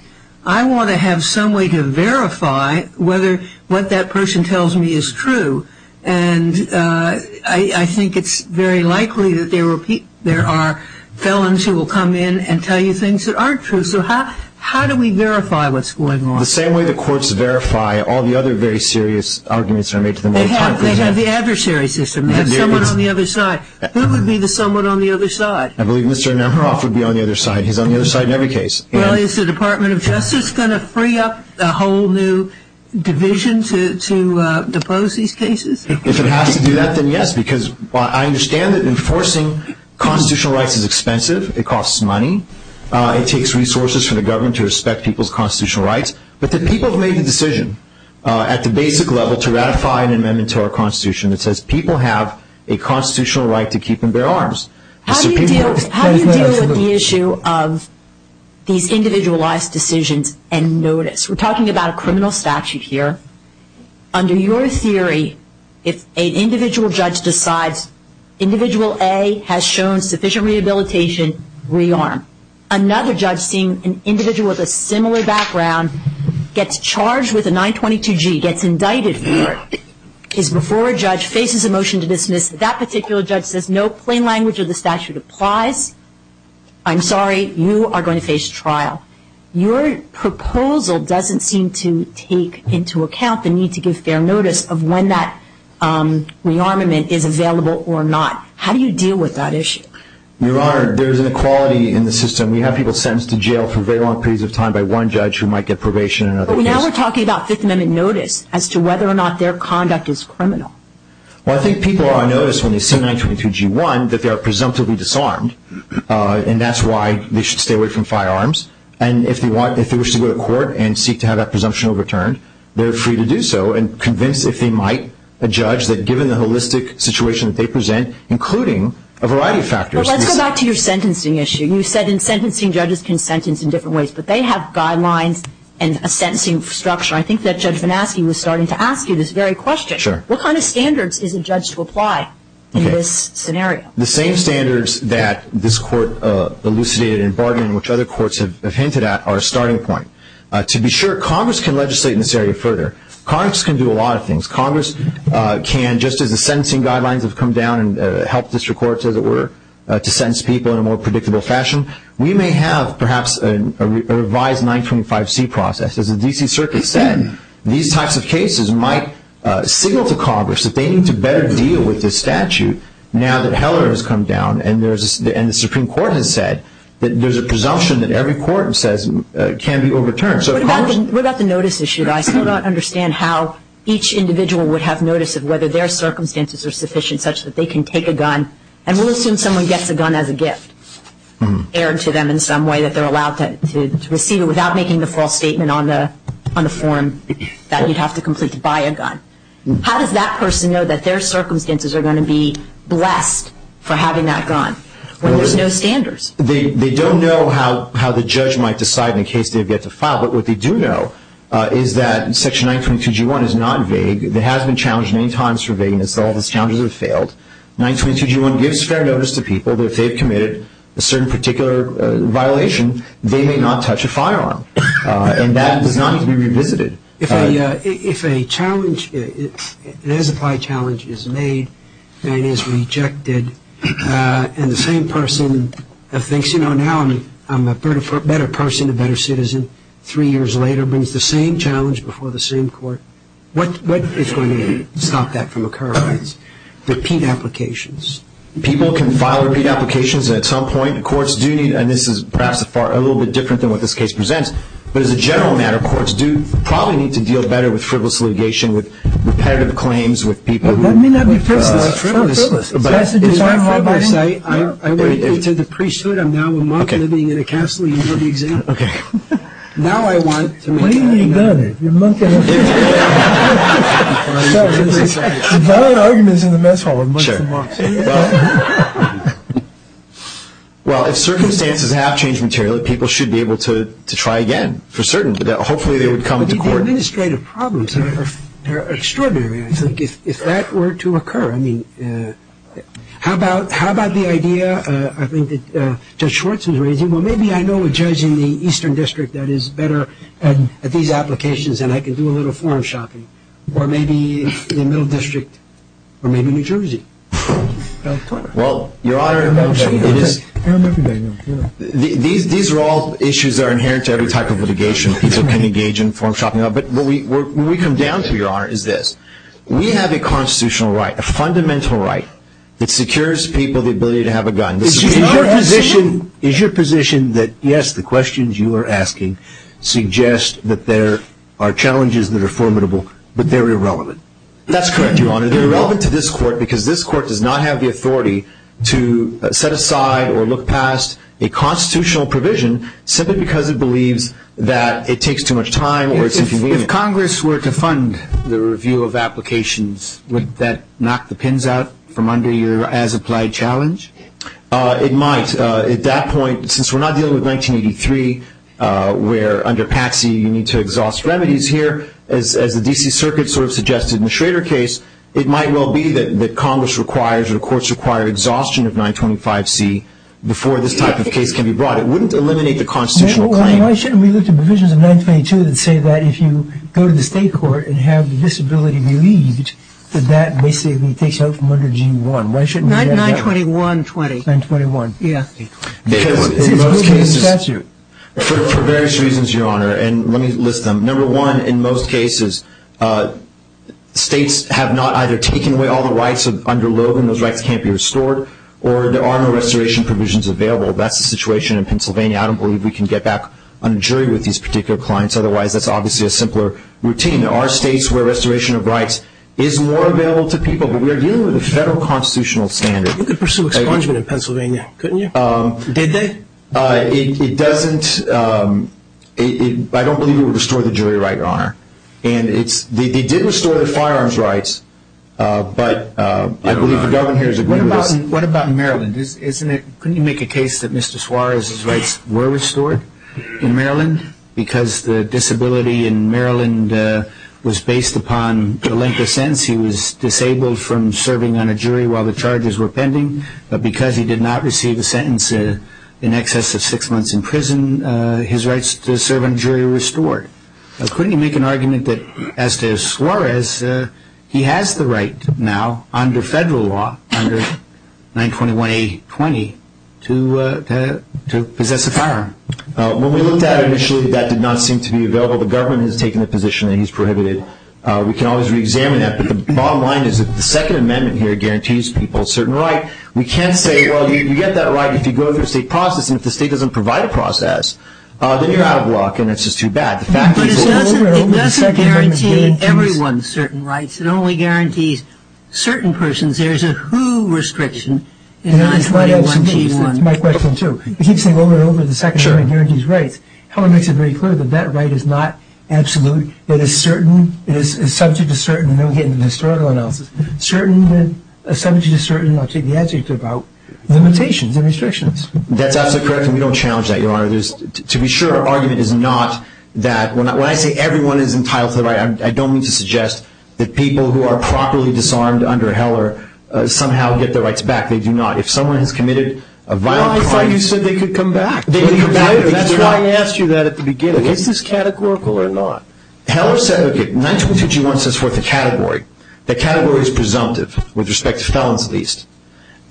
I want to have some way to verify whether what that person tells me is true, and I think it's very likely that there are felons who will come in and tell you things that aren't true. So how do we verify what's going on? The same way the courts verify all the other very serious arguments that are made to them all the time. They have the adversary system. They have someone on the other side. Who would be the someone on the other side? I believe Mr. Nemeroff would be on the other side. He's on the other side in every case. Well, is the Department of Justice going to free up a whole new division to depose these cases? If it has to do that, then yes, because I understand that enforcing constitutional rights is expensive. It costs money. It takes resources from the government to respect people's constitutional rights. But the people who made the decision at the basic level to ratify an amendment to our Constitution that says people have a constitutional right to keep and bear arms. How do you deal with the issue of these individualized decisions and notice? We're talking about a criminal statute here. Under your theory, if an individual judge decides Individual A has shown sufficient rehabilitation, rearm. Another judge seeing an individual with a similar background gets charged with a 922G, gets indicted for it, is before a judge, faces a motion to dismiss. That particular judge says no plain language of the statute applies. I'm sorry. You are going to face trial. Your proposal doesn't seem to take into account the need to give fair notice of when that rearmament is available or not. How do you deal with that issue? Your Honor, there's an equality in the system. We have people sentenced to jail for very long periods of time by one judge who might get probation. Now we're talking about Fifth Amendment notice as to whether or not their conduct is criminal. Well, I think people are noticed when they see 922G1 that they are presumptively disarmed, and that's why they should stay away from firearms. And if they wish to go to court and seek to have that presumption overturned, they're free to do so and convinced if they might, a judge, that given the holistic situation that they present, including a variety of factors. Well, let's go back to your sentencing issue. You said in sentencing judges can sentence in different ways, but they have guidelines and a sentencing structure. I think that Judge Van Aske was starting to ask you this very question. What kind of standards is a judge to apply in this scenario? The same standards that this Court elucidated in bargaining, which other courts have hinted at, are a starting point. To be sure, Congress can legislate in this area further. Congress can do a lot of things. Congress can, just as the sentencing guidelines have come down and helped district courts, as it were, to sentence people in a more predictable fashion, we may have perhaps a revised 925C process. As the D.C. Circuit said, these types of cases might signal to Congress that they need to better deal with this statute now that Heller has come down and the Supreme Court has said that there's a presumption that every court can be overturned. What about the notice issue? I still don't understand how each individual would have notice of whether their circumstances are sufficient such that they can take a gun, and we'll assume someone gets a gun as a gift, and we'll assume that they're allowed to receive it without making the false statement on the form that you'd have to complete to buy a gun. How does that person know that their circumstances are going to be blessed for having that gun when there's no standards? They don't know how the judge might decide in the case they've yet to file, but what they do know is that Section 922G1 is not vague. It has been challenged many times for vagueness. All of its challenges have failed. 922G1 gives fair notice to people that if they've committed a certain particular violation, they may not touch a firearm, and that does not need to be revisited. If a challenge, an as-applied challenge, is made and is rejected, and the same person thinks, you know, now I'm a better person, a better citizen, three years later brings the same challenge before the same court, what is going to stop that from occurring? That is, repeat applications. People can file the repeat applications, and at some point courts do need to, and this is perhaps a little bit different than what this case presents, but as a general matter, courts do probably need to deal better with frivolous litigation, with repetitive claims, with people who..... That may not be personal. It's not frivolous. It's not frivolous. I will go into the priesthood, I'm now a monk living in a castle. You heard the example. Now I want.... What do you mean go there? You're a monk and a priest. Well, if circumstances have changed materially, people should be able to try again for certain. Hopefully they would come to court. The administrative problems are extraordinary. I think if that were to occur, I mean, how about the idea I think that Judge Schwartz was raising? Well, maybe I know a judge in the Eastern District that is better at these applications and I can do a little form shopping, or maybe the Middle District, or maybe New Jersey. Well, Your Honor, these are all issues that are inherent to every type of litigation. People can engage in form shopping. But what we come down to, Your Honor, is this. We have a constitutional right, a fundamental right, that secures people the ability to have a gun. Is your position that, yes, the questions you are asking suggest that there are challenges that are formidable, but they're irrelevant? That's correct, Your Honor. They're irrelevant to this court because this court does not have the authority to set aside or look past a constitutional provision simply because it believes that it takes too much time or it's inconvenient. If Congress were to fund the review of applications, would that knock the pins out from under your as-applied challenge? It might. At that point, since we're not dealing with 1983, where under Patsy you need to exhaust remedies here, as the D.C. Circuit sort of suggested in the Schrader case, it might well be that Congress requires or the courts require exhaustion of 925C before this type of case can be brought. It wouldn't eliminate the constitutional claim. Why shouldn't we look to provisions of 922 that say that if you go to the state court and have the disability relieved, that that basically takes out from under G1? Why shouldn't we have that? 92120. 921. Because in most cases, for various reasons, Your Honor, and let me list them. Number one, in most cases, states have not either taken away all the rights under Logan, those rights can't be restored, or there are no restoration provisions available. That's the situation in Pennsylvania. I don't believe we can get back on a jury with these particular clients. Otherwise, that's obviously a simpler routine. There are states where restoration of rights is more available to people, but we are dealing with a federal constitutional standard. You could pursue expungement in Pennsylvania, couldn't you? Did they? It doesn't. I don't believe it would restore the jury right, Your Honor. And they did restore the firearms rights, but I believe the Governor here has agreed with us. What about Maryland? Couldn't you make a case that Mr. Suarez's rights were restored in Maryland? Because the disability in Maryland was based upon the length of sentence, he was disabled from serving on a jury while the charges were pending, but because he did not receive a sentence in excess of six months in prison, his rights to serve on a jury were restored. Couldn't you make an argument that, as to Suarez, he has the right now under federal law, under 921A20, to possess a firearm? When we looked at it initially, that did not seem to be available. The government has taken the position that he's prohibited. We can always reexamine that. But the bottom line is that the Second Amendment here guarantees people a certain right. We can't say, well, you get that right if you go through a state process, then you're out of luck and it's just too bad. But it doesn't guarantee everyone certain rights. It only guarantees certain persons. There's a who restriction in 921A21. That's my question, too. It keeps saying, over and over, the Second Amendment guarantees rights. Howard makes it very clear that that right is not absolute. It is subject to certain, and then we get into the historical analysis, subject to certain, and I'll take the adjective out, limitations and restrictions. That's absolutely correct, and we don't challenge that, Your Honor. To be sure, our argument is not that. When I say everyone is entitled to the right, I don't mean to suggest that people who are properly disarmed under Heller somehow get their rights back. They do not. If someone has committed a violent crime. Well, I thought you said they could come back. They can come back. That's why I asked you that at the beginning. Is this categorical or not? Heller said, okay, 921A21 sets forth a category. That category is presumptive, with respect to felons at least,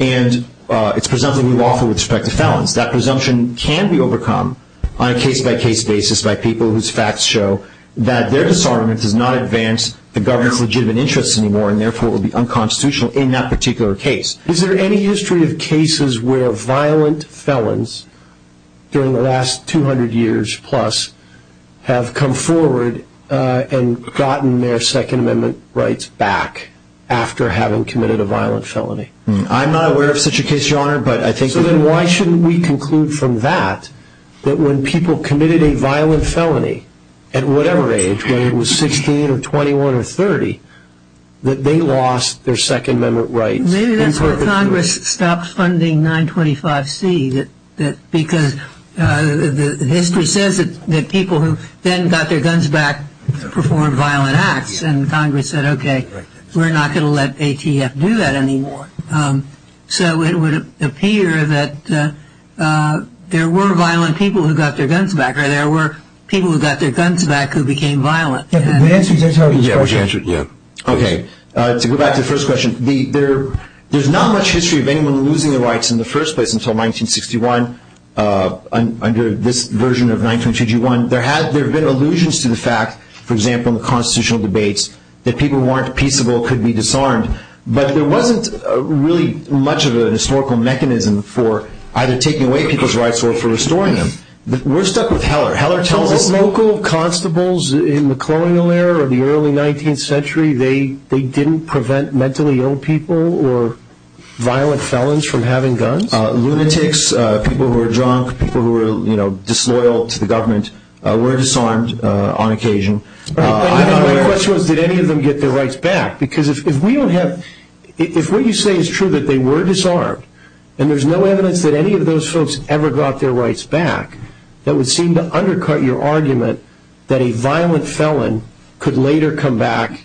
and it's presumptively lawful with respect to felons. That presumption can be overcome on a case-by-case basis by people whose facts show that their disarmament does not advance the government's legitimate interests anymore and therefore will be unconstitutional in that particular case. Is there any history of cases where violent felons, during the last 200 years plus, have come forward and gotten their Second Amendment rights back after having committed a violent felony? So then why shouldn't we conclude from that that when people committed a violent felony at whatever age, whether it was 16 or 21 or 30, that they lost their Second Amendment rights? Maybe that's why Congress stopped funding 925C, because history says that people who then got their guns back performed violent acts, and Congress said, okay, we're not going to let ATF do that anymore. So it would appear that there were violent people who got their guns back, or there were people who got their guns back who became violent. Yeah, but the answer is, that's how we approach it. Yeah. Okay, to go back to the first question, there's not much history of anyone losing their rights in the first place until 1961, under this version of 925G1. There have been allusions to the fact, for example, in the constitutional debates, that people who weren't peaceable could be disarmed. But there wasn't really much of a historical mechanism for either taking away people's rights or for restoring them. We're stuck with Heller. Heller tells us – So local constables in the colonial era of the early 19th century, they didn't prevent mentally ill people or violent felons from having guns? Lunatics, people who were drunk, people who were disloyal to the government were disarmed on occasion. The question was, did any of them get their rights back? Because if what you say is true, that they were disarmed, and there's no evidence that any of those folks ever got their rights back, that would seem to undercut your argument that a violent felon could later come back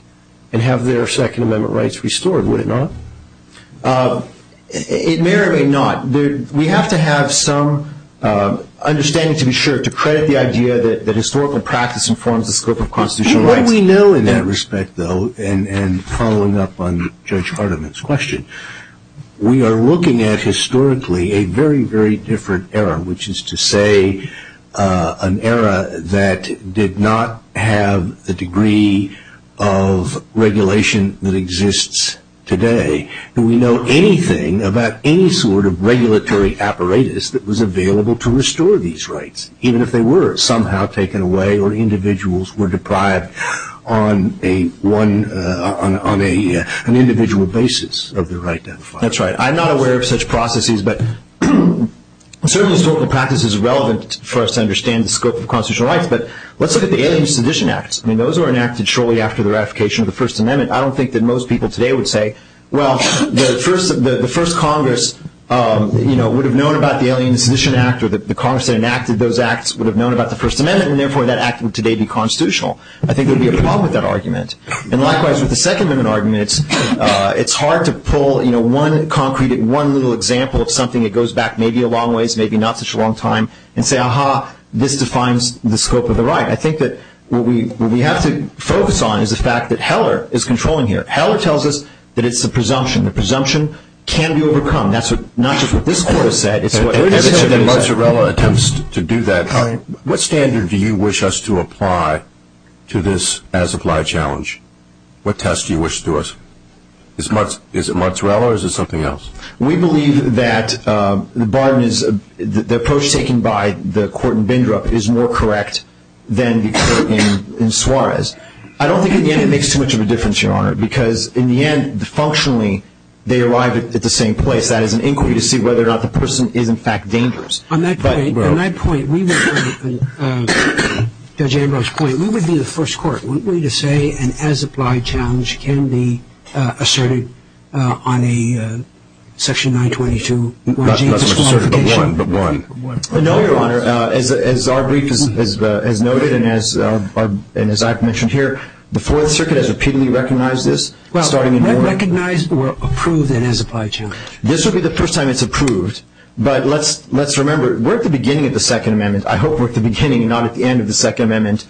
and have their Second Amendment rights restored, would it not? It may or may not. We have to have some understanding, to be sure, to credit the idea that historical practice informs the scope of constitutional rights. What we know in that respect, though, and following up on Judge Hardiman's question, we are looking at historically a very, very different era, which is to say an era that did not have the degree of regulation that exists today. Do we know anything about any sort of regulatory apparatus that was available to restore these rights, even if they were somehow taken away or individuals were deprived on an individual basis of the right to have a firearm? That's right. I'm not aware of such processes, but certainly historical practice is relevant for us to understand the scope of constitutional rights, but let's look at the Alien and Sedition Acts. Those were enacted shortly after the ratification of the First Amendment. I don't think that most people today would say, well, the first Congress would have known about the Alien and Sedition Act or the Congress that enacted those acts would have known about the First Amendment, and therefore that act would today be constitutional. I think there would be a problem with that argument. And likewise, with the Second Amendment arguments, it's hard to pull one concrete, one little example of something that goes back maybe a long ways, maybe not such a long time, and say, aha, this defines the scope of the right. I think that what we have to focus on is the fact that Heller is controlling here. Heller tells us that it's the presumption. The presumption can be overcome. That's not just what this Court has said, it's what everybody has said. Ever since the Mozzarella attempts to do that, what standard do you wish us to apply to this as-applied challenge? What test do you wish to us? Is it Mozzarella or is it something else? We believe that the approach taken by the court in Bindrup is more correct than in Suarez. I don't think in the end it makes too much of a difference, Your Honor, because in the end, functionally, they arrive at the same place. That is, an inquiry to see whether or not the person is in fact dangerous. On that point, Judge Ambrose's point, we would be the first court, wouldn't we, to say an as-applied challenge can be asserted on a section 922. Not asserted, but one. No, Your Honor. As our brief has noted and as I've mentioned here, the Fourth Circuit has repeatedly recognized this. Well, not recognized, but approved an as-applied challenge. This will be the first time it's approved. But let's remember, we're at the beginning of the Second Amendment. I hope we're at the beginning, not at the end, of the Second Amendment's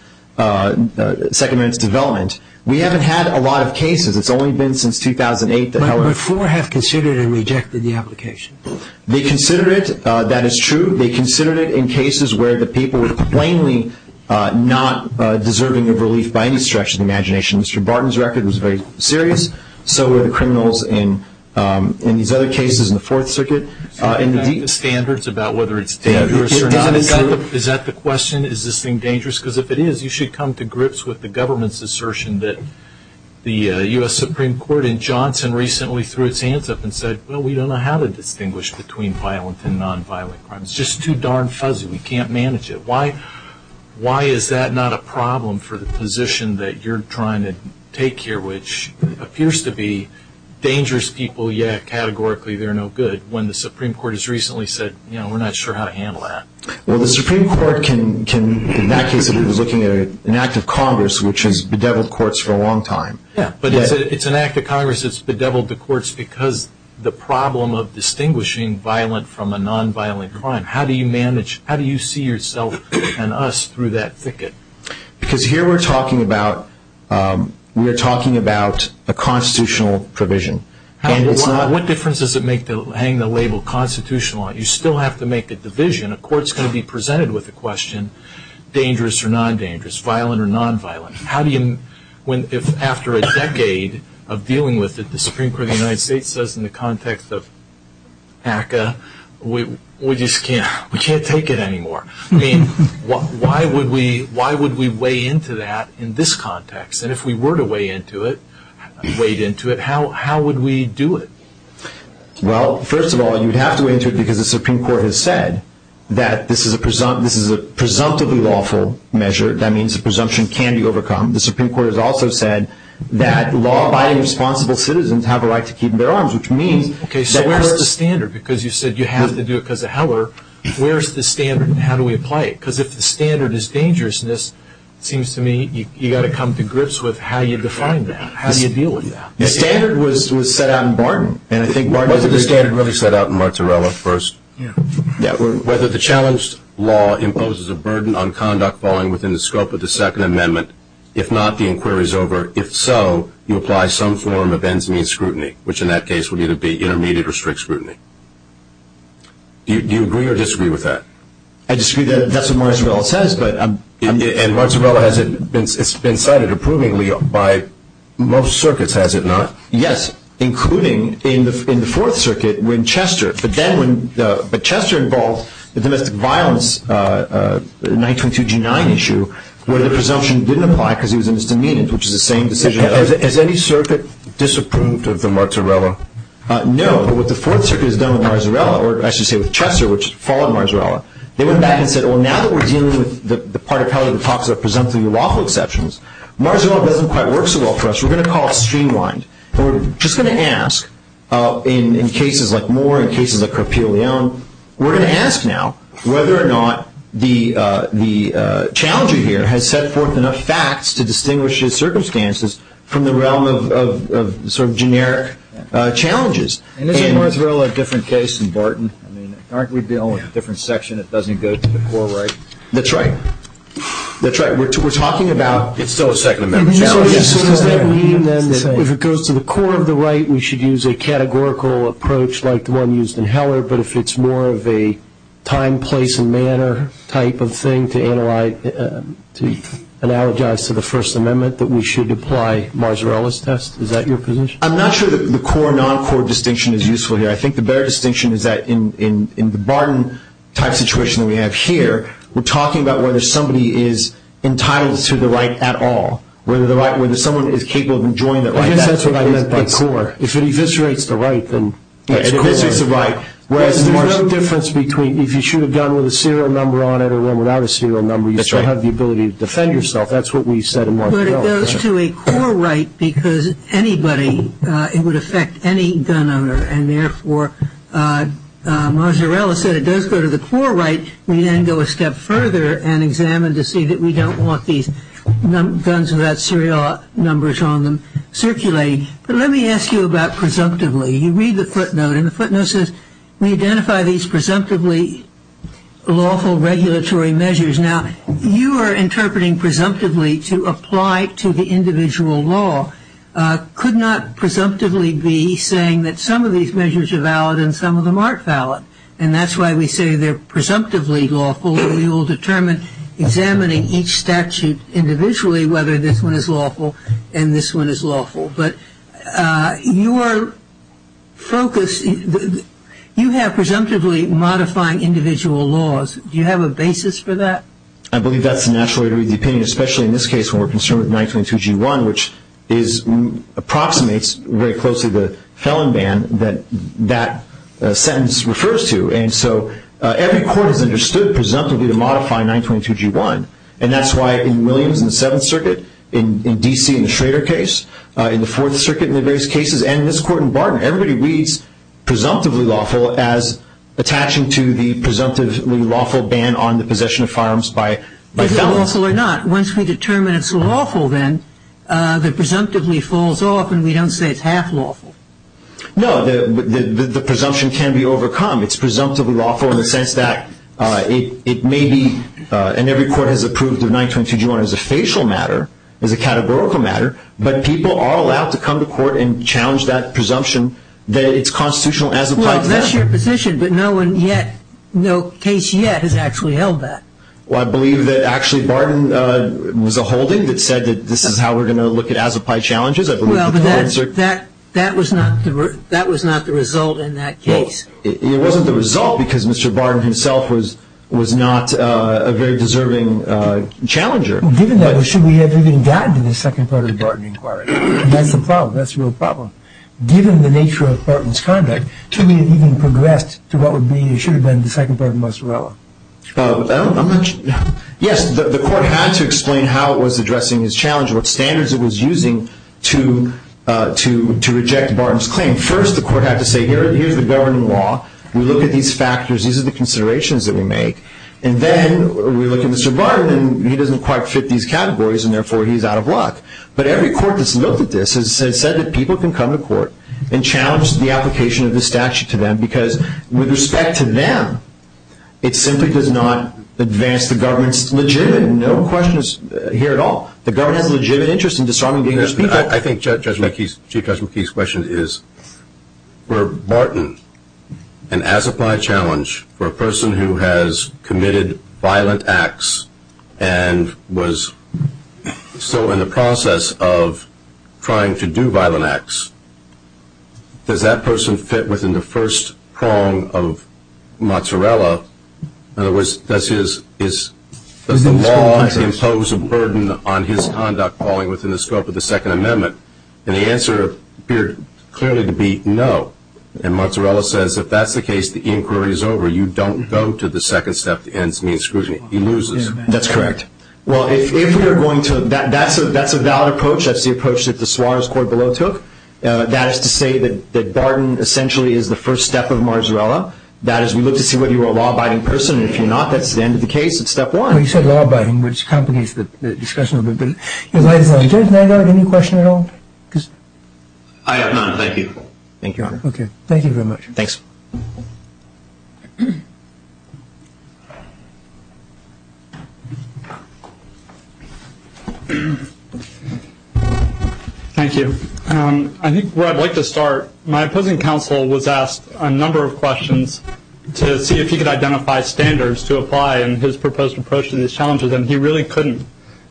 development. We haven't had a lot of cases. It's only been since 2008. But four have considered it and rejected the application. They considered it. That is true. They considered it in cases where the people were plainly not deserving of relief by any stretch of the imagination. Mr. Barton's record was very serious. So were the criminals in these other cases in the Fourth Circuit. And meet the standards about whether it's dangerous or not. Is that the question? Is this thing dangerous? Because if it is, you should come to grips with the government's assertion that the U.S. Supreme Court in Johnson recently threw its hands up and said, well, we don't know how to distinguish between violent and nonviolent crimes. It's just too darn fuzzy. We can't manage it. Why is that not a problem for the position that you're trying to take here, which appears to be dangerous people, yet categorically they're no good, when the Supreme Court has recently said, you know, we're not sure how to handle that? Well, the Supreme Court can, in that case it was looking at an act of Congress, which has bedeviled courts for a long time. But it's an act of Congress that's bedeviled the courts because the problem of distinguishing violent from a nonviolent crime. How do you manage, how do you see yourself and us through that thicket? Because here we're talking about a constitutional provision. What difference does it make to hang the label constitutional? You still have to make a division. A court's going to be presented with a question, dangerous or non-dangerous, violent or non-violent. How do you, when after a decade of dealing with it, the Supreme Court of the United States says in the context of ACCA, we just can't, we can't take it anymore. I mean, why would we weigh into that in this context? And if we were to weigh into it, how would we do it? Well, first of all, you'd have to weigh into it because the Supreme Court has said that this is a presumptively lawful measure. That means the presumption can be overcome. The Supreme Court has also said that law-abiding, responsible citizens have a right to keep their arms, which means that where's the standard? How do we apply it? Because if the standard is dangerousness, it seems to me you've got to come to grips with how you define that. How do you deal with that? The standard was set out in Barton. Wasn't the standard really set out in Marzarella first? Yeah. Whether the challenged law imposes a burden on conduct falling within the scope of the Second Amendment, if not, the inquiry's over. If so, you apply some form of ends-means scrutiny, which in that case would either be intermediate or strict scrutiny. Do you agree or disagree with that? I disagree. That's what Marzarella says. And Marzarella, it's been cited approvingly by most circuits, has it not? Yes, including in the Fourth Circuit when Chester. But then when Chester involved the domestic violence 1922-9 issue, where the presumption didn't apply because he was a misdemeanant, which is the same decision. Has any circuit disapproved of the Marzarella? No. But what the Fourth Circuit has done with Marzarella, or I should say with Chester, which followed Marzarella, they went back and said, well, now that we're dealing with the part of Kelly that talks about presumptive lawful exceptions, Marzarella doesn't quite work so well for us. We're going to call it streamlined. And we're just going to ask in cases like Moore and cases like Carpiglione, we're going to ask now whether or not the challenger here has set forth enough facts to distinguish his circumstances from the realm of sort of generic challenges. And isn't Marzarella a different case than Barton? I mean, aren't we dealing with a different section that doesn't go to the core right? That's right. That's right. We're talking about it's still a Second Amendment challenge. So does that mean then that if it goes to the core of the right, we should use a categorical approach like the one used in Heller, but if it's more of a time, place, and manner type of thing to analyze, to analogize to the First Amendment, that we should apply Marzarella's test? Is that your position? I'm not sure the core, non-core distinction is useful here. I think the better distinction is that in the Barton type situation that we have here, we're talking about whether somebody is entitled to the right at all, whether someone is capable of enjoying the right. I guess that's what I meant by core. If it eviscerates the right, then it's core. Yeah, it eviscerates the right. There's no difference between if you should have gone with a serial number on it or without a serial number, you still have the ability to defend yourself. That's what we said in Marzarella. But it goes to a core right because anybody, it would affect any gun owner, and therefore Marzarella said it does go to the core right. We then go a step further and examine to see that we don't want these guns without serial numbers on them circulating. But let me ask you about presumptively. You read the footnote, and the footnote says, We identify these presumptively lawful regulatory measures. Now, you are interpreting presumptively to apply to the individual law. Could not presumptively be saying that some of these measures are valid and some of them aren't valid, and that's why we say they're presumptively lawful and we will determine, examining each statute individually, whether this one is lawful and this one is lawful. But your focus, you have presumptively modifying individual laws. Do you have a basis for that? I believe that's the natural way to read the opinion, especially in this case when we're concerned with 922G1, which approximates very closely the felon ban that that sentence refers to. And so every court has understood presumptively to modify 922G1, and that's why in Williams in the Seventh Circuit, in D.C. in the Schrader case, in the Fourth Circuit in the various cases, and in this court in Barton, everybody reads presumptively lawful as attaching to the presumptively lawful ban on the possession of firearms by felons. Is it lawful or not? Once we determine it's lawful then, the presumptively falls off and we don't say it's half lawful. No, the presumption can be overcome. It's presumptively lawful in the sense that it may be, and every court has approved of 922G1 as a facial matter, as a categorical matter, but people are allowed to come to court and challenge that presumption that it's constitutional as applied to them. Well, that's your position, but no one yet, no case yet has actually held that. Well, I believe that actually Barton was a holding that said that this is how we're going to look at as applied challenges. Well, but that was not the result in that case. It wasn't the result because Mr. Barton himself was not a very deserving challenger. Well, given that, should we have even gotten to the second part of the Barton inquiry? That's the problem. That's the real problem. Given the nature of Barton's conduct, should we have even progressed to what should have been the second part of Mozzarella? Yes, the court had to explain how it was addressing his challenge and what standards it was using to reject Barton's claim. First, the court had to say, here's the governing law. We look at these factors. These are the considerations that we make. And then we look at Mr. Barton and he doesn't quite fit these categories and, therefore, he's out of luck. But every court that's looked at this has said that people can come to court and challenge the application of the statute to them because, with respect to them, it simply does not advance the government's legitimate, no questions here at all, the government's legitimate interest in disarming the English people. I think Judge McKee's question is, for Barton, an as-applied challenge for a person who has committed violent acts and was still in the process of trying to do violent acts, does that person fit within the first prong of Mozzarella? In other words, does the law impose a burden on his conduct falling within the scope of the Second Amendment? And the answer appeared clearly to be no. And Mozzarella says, if that's the case, the inquiry is over. You don't go to the second step that ends me and screws me. He loses. That's correct. Well, that's a valid approach. That's the approach that the Suarez Court below took. That is to say that Barton essentially is the first step of Mozzarella. That is, we look to see whether you're a law-abiding person, and if you're not, that's the end of the case. It's step one. Well, you said law-abiding, which complicates the discussion a little bit. Judge Nagle, any question at all? I have none. Thank you. Thank you, Your Honor. Okay. Thank you very much. Thanks. Thank you. I think where I'd like to start, my opposing counsel was asked a number of questions to see if he could identify standards to apply in his proposed approach to these challenges, and he really couldn't.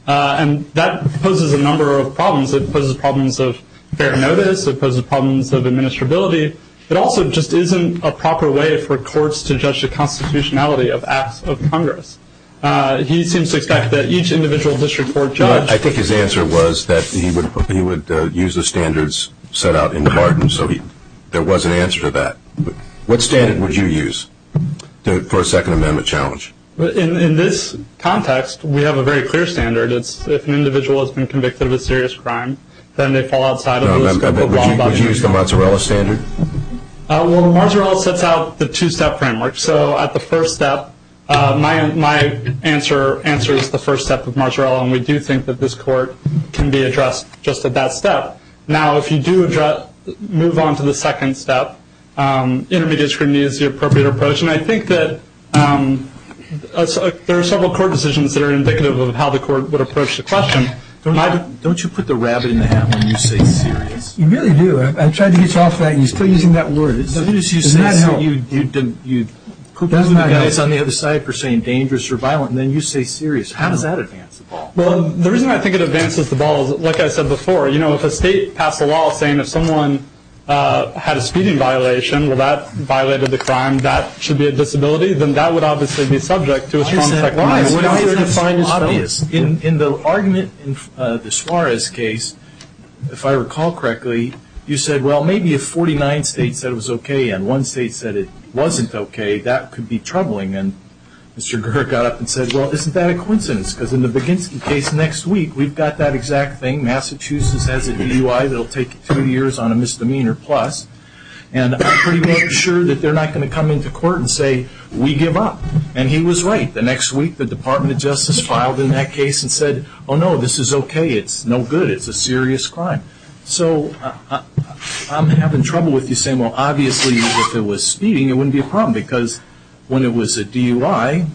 And that poses a number of problems. It poses problems of fair notice. It poses problems of administrability. It also just isn't a proper way for courts to judge the constitutionality of acts of Congress. He seems to expect that each individual district court judge. I think his answer was that he would use the standards set out in the Barton, so there was an answer to that. What standard would you use for a Second Amendment challenge? In this context, we have a very clear standard. It's if an individual has been convicted of a serious crime, then they fall outside of the scope of law. Would you use the Marzarella standard? Well, Marzarella sets out the two-step framework. So at the first step, my answer answers the first step of Marzarella, and we do think that this court can be addressed just at that step. Now, if you do move on to the second step, intermediate scrutiny is the appropriate approach. And I think that there are several court decisions that are indicative of how the court would approach the question. Don't you put the rabbit in the hat when you say serious? You really do. I tried to get you off that, and you're still using that word. As soon as you say that, you put the guys on the other side for saying dangerous or violent, and then you say serious. How does that advance the ball? Well, the reason I think it advances the ball is, like I said before, if a state passed a law saying if someone had a speeding violation, well, that violated the crime, and that should be a disability, then that would obviously be subject to a strong technicality. Why is that so obvious? In the argument in the Suarez case, if I recall correctly, you said, well, maybe if 49 states said it was okay and one state said it wasn't okay, that could be troubling. And Mr. Gerhardt got up and said, well, isn't that a coincidence? Because in the Baginski case next week, we've got that exact thing. Massachusetts has a DUI that will take two years on a misdemeanor plus, and I'm pretty sure that they're not going to come into court and say, we give up. And he was right. The next week, the Department of Justice filed in that case and said, oh, no, this is okay. It's no good. It's a serious crime. So I'm having trouble with you saying, well, obviously, if it was speeding, it wouldn't be a problem, because when it was a DUI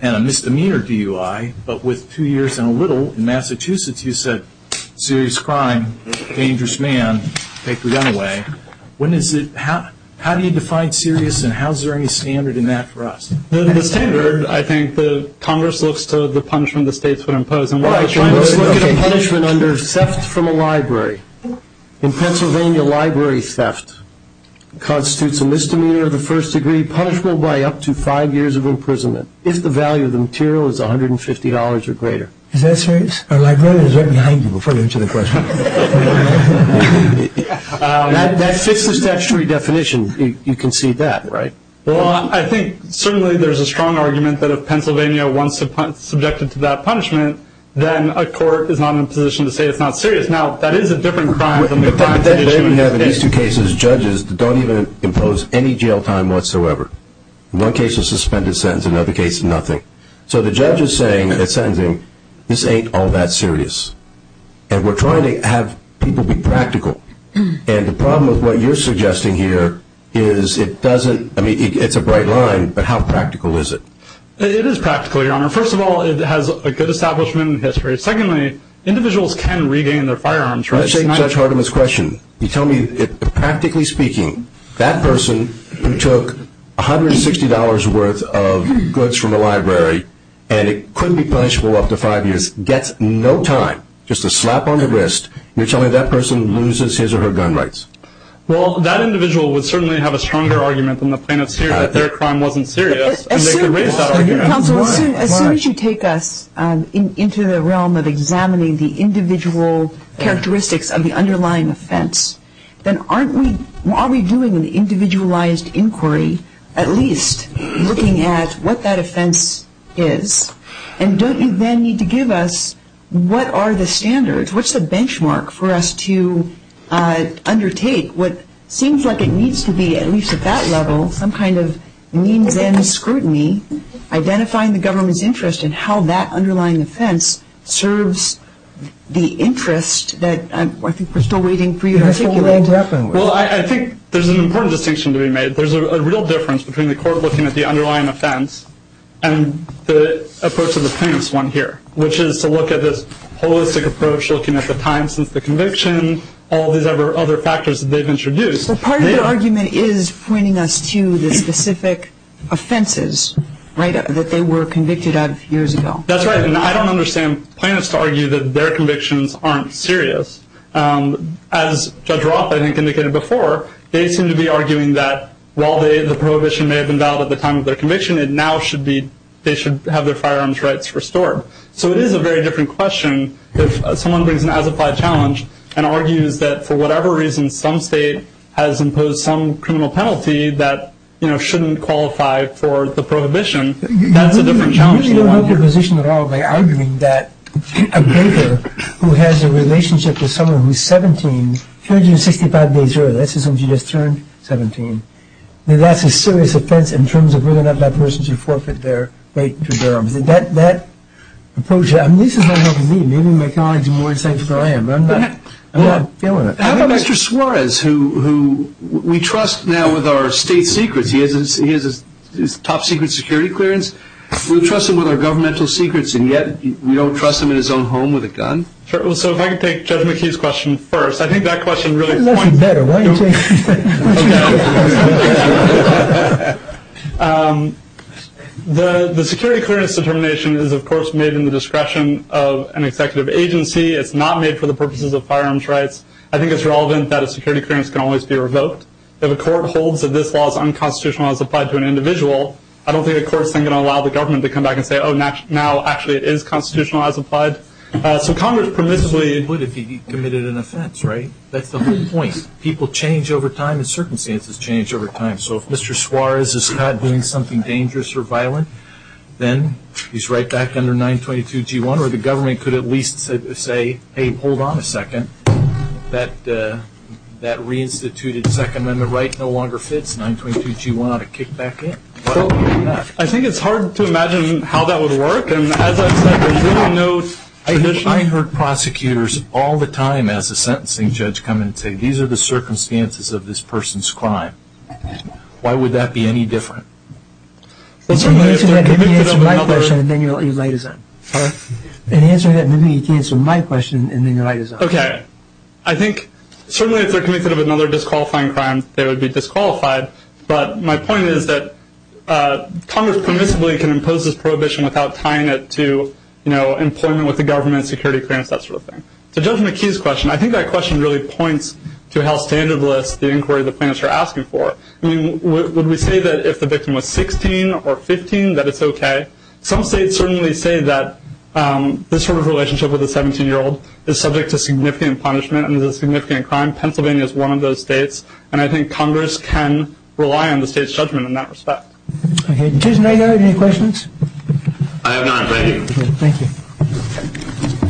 and a misdemeanor DUI, but with two years and a little, in Massachusetts, you said serious crime, dangerous man, take the gun away. How do you define serious and how is there any standard in that for us? The standard, I think, the Congress looks to the punishment the states would impose. Let's look at a punishment under theft from a library. In Pennsylvania, library theft constitutes a misdemeanor of the first degree, punishable by up to five years of imprisonment if the value of the material is $150 or greater. Is that serious? Our librarian is right behind you before you answer the question. That fits the statutory definition. You can see that, right? Well, I think certainly there's a strong argument that if Pennsylvania was subjected to that punishment, then a court is not in a position to say it's not serious. Now, that is a different crime. In these two cases, judges don't even impose any jail time whatsoever. In one case, a suspended sentence. In another case, nothing. So the judge is saying, is sentencing, this ain't all that serious. And we're trying to have people be practical. And the problem with what you're suggesting here is it doesn't, I mean, it's a bright line, but how practical is it? It is practical, Your Honor. First of all, it has a good establishment in history. Secondly, individuals can regain their firearms. You're taking such hard of a question. You tell me, practically speaking, that person who took $160 worth of goods from a library and it couldn't be punishable up to five years gets no time, just a slap on the wrist, and you're telling me that person loses his or her gun rights. Well, that individual would certainly have a stronger argument than the plaintiff's here that their crime wasn't serious. And they could raise that argument. Counsel, as soon as you take us into the realm of examining the individual characteristics of the underlying offense, then aren't we, are we doing an individualized inquiry, at least looking at what that offense is? And don't you then need to give us what are the standards, what's the benchmark for us to undertake what seems like it needs to be, at least at that level, some kind of means and scrutiny, identifying the government's interest in how that underlying offense serves the interest that, I think we're still waiting for you to articulate. Well, I think there's an important distinction to be made. There's a real difference between the court looking at the underlying offense and the approach of the plaintiff's one here, which is to look at this holistic approach, looking at the time since the conviction, all these other factors that they've introduced. Well, part of the argument is pointing us to the specific offenses, right, that they were convicted of years ago. That's right. And I don't understand plaintiffs to argue that their convictions aren't serious. As Judge Roth, I think, indicated before, they seem to be arguing that while the prohibition may have been valid at the time of their conviction, it now should be they should have their firearms rights restored. So it is a very different question if someone brings an as-applied challenge and argues that for whatever reason some state has imposed some criminal penalty that, you know, shouldn't qualify for the prohibition. That's a different challenge. You really don't hold your position at all by arguing that a baker who has a relationship with someone who's 17, if you're 65 days early, that's as soon as you just turned 17, that's a serious offense in terms of whether or not that person should forfeit their right to firearms. That approach, I mean, this is not helping me. Maybe my colleagues are more insightful than I am, but I'm not feeling it. How about Mr. Suarez, who we trust now with our state secrets? He has his top-secret security clearance. We trust him with our governmental secrets, and yet we don't trust him in his own home with a gun. So if I could take Judge McKee's question first. I think that question really points to- That's better, right? The security clearance determination is, of course, made in the discretion of an executive agency. It's not made for the purposes of firearms rights. I think it's relevant that a security clearance can always be revoked, but if a court holds that this law is unconstitutional as applied to an individual, I don't think the court is going to allow the government to come back and say, oh, now actually it is constitutional as applied. So Congress permissibly would if he committed an offense, right? That's the whole point. People change over time, and circumstances change over time. So if Mr. Suarez is caught doing something dangerous or violent, then he's right back under 922G1, or the government could at least say, hey, hold on a second, that reinstituted 2nd Amendment right no longer fits, 922G1 ought to kick back in. I think it's hard to imagine how that would work, and as I've said, there's really no- I heard prosecutors all the time as a sentencing judge come in and say, these are the circumstances of this person's crime. Why would that be any different? Answer my question, and then your light is on. Answer that, and then you can answer my question, and then your light is on. Okay. I think certainly if they're convicted of another disqualifying crime, they would be disqualified, but my point is that Congress permissibly can impose this prohibition without tying it to, you know, employment with the government, security clearance, that sort of thing. So judging McKee's question, I think that question really points to how standardless the inquiry the plaintiffs are asking for. I mean, would we say that if the victim was 16 or 15 that it's okay? Some states certainly say that this sort of relationship with a 17-year-old is subject to significant punishment and is a significant crime. Pennsylvania is one of those states, and I think Congress can rely on the state's judgment in that respect. Okay. Judge Nago, any questions? I have none. Thank you. Thank you.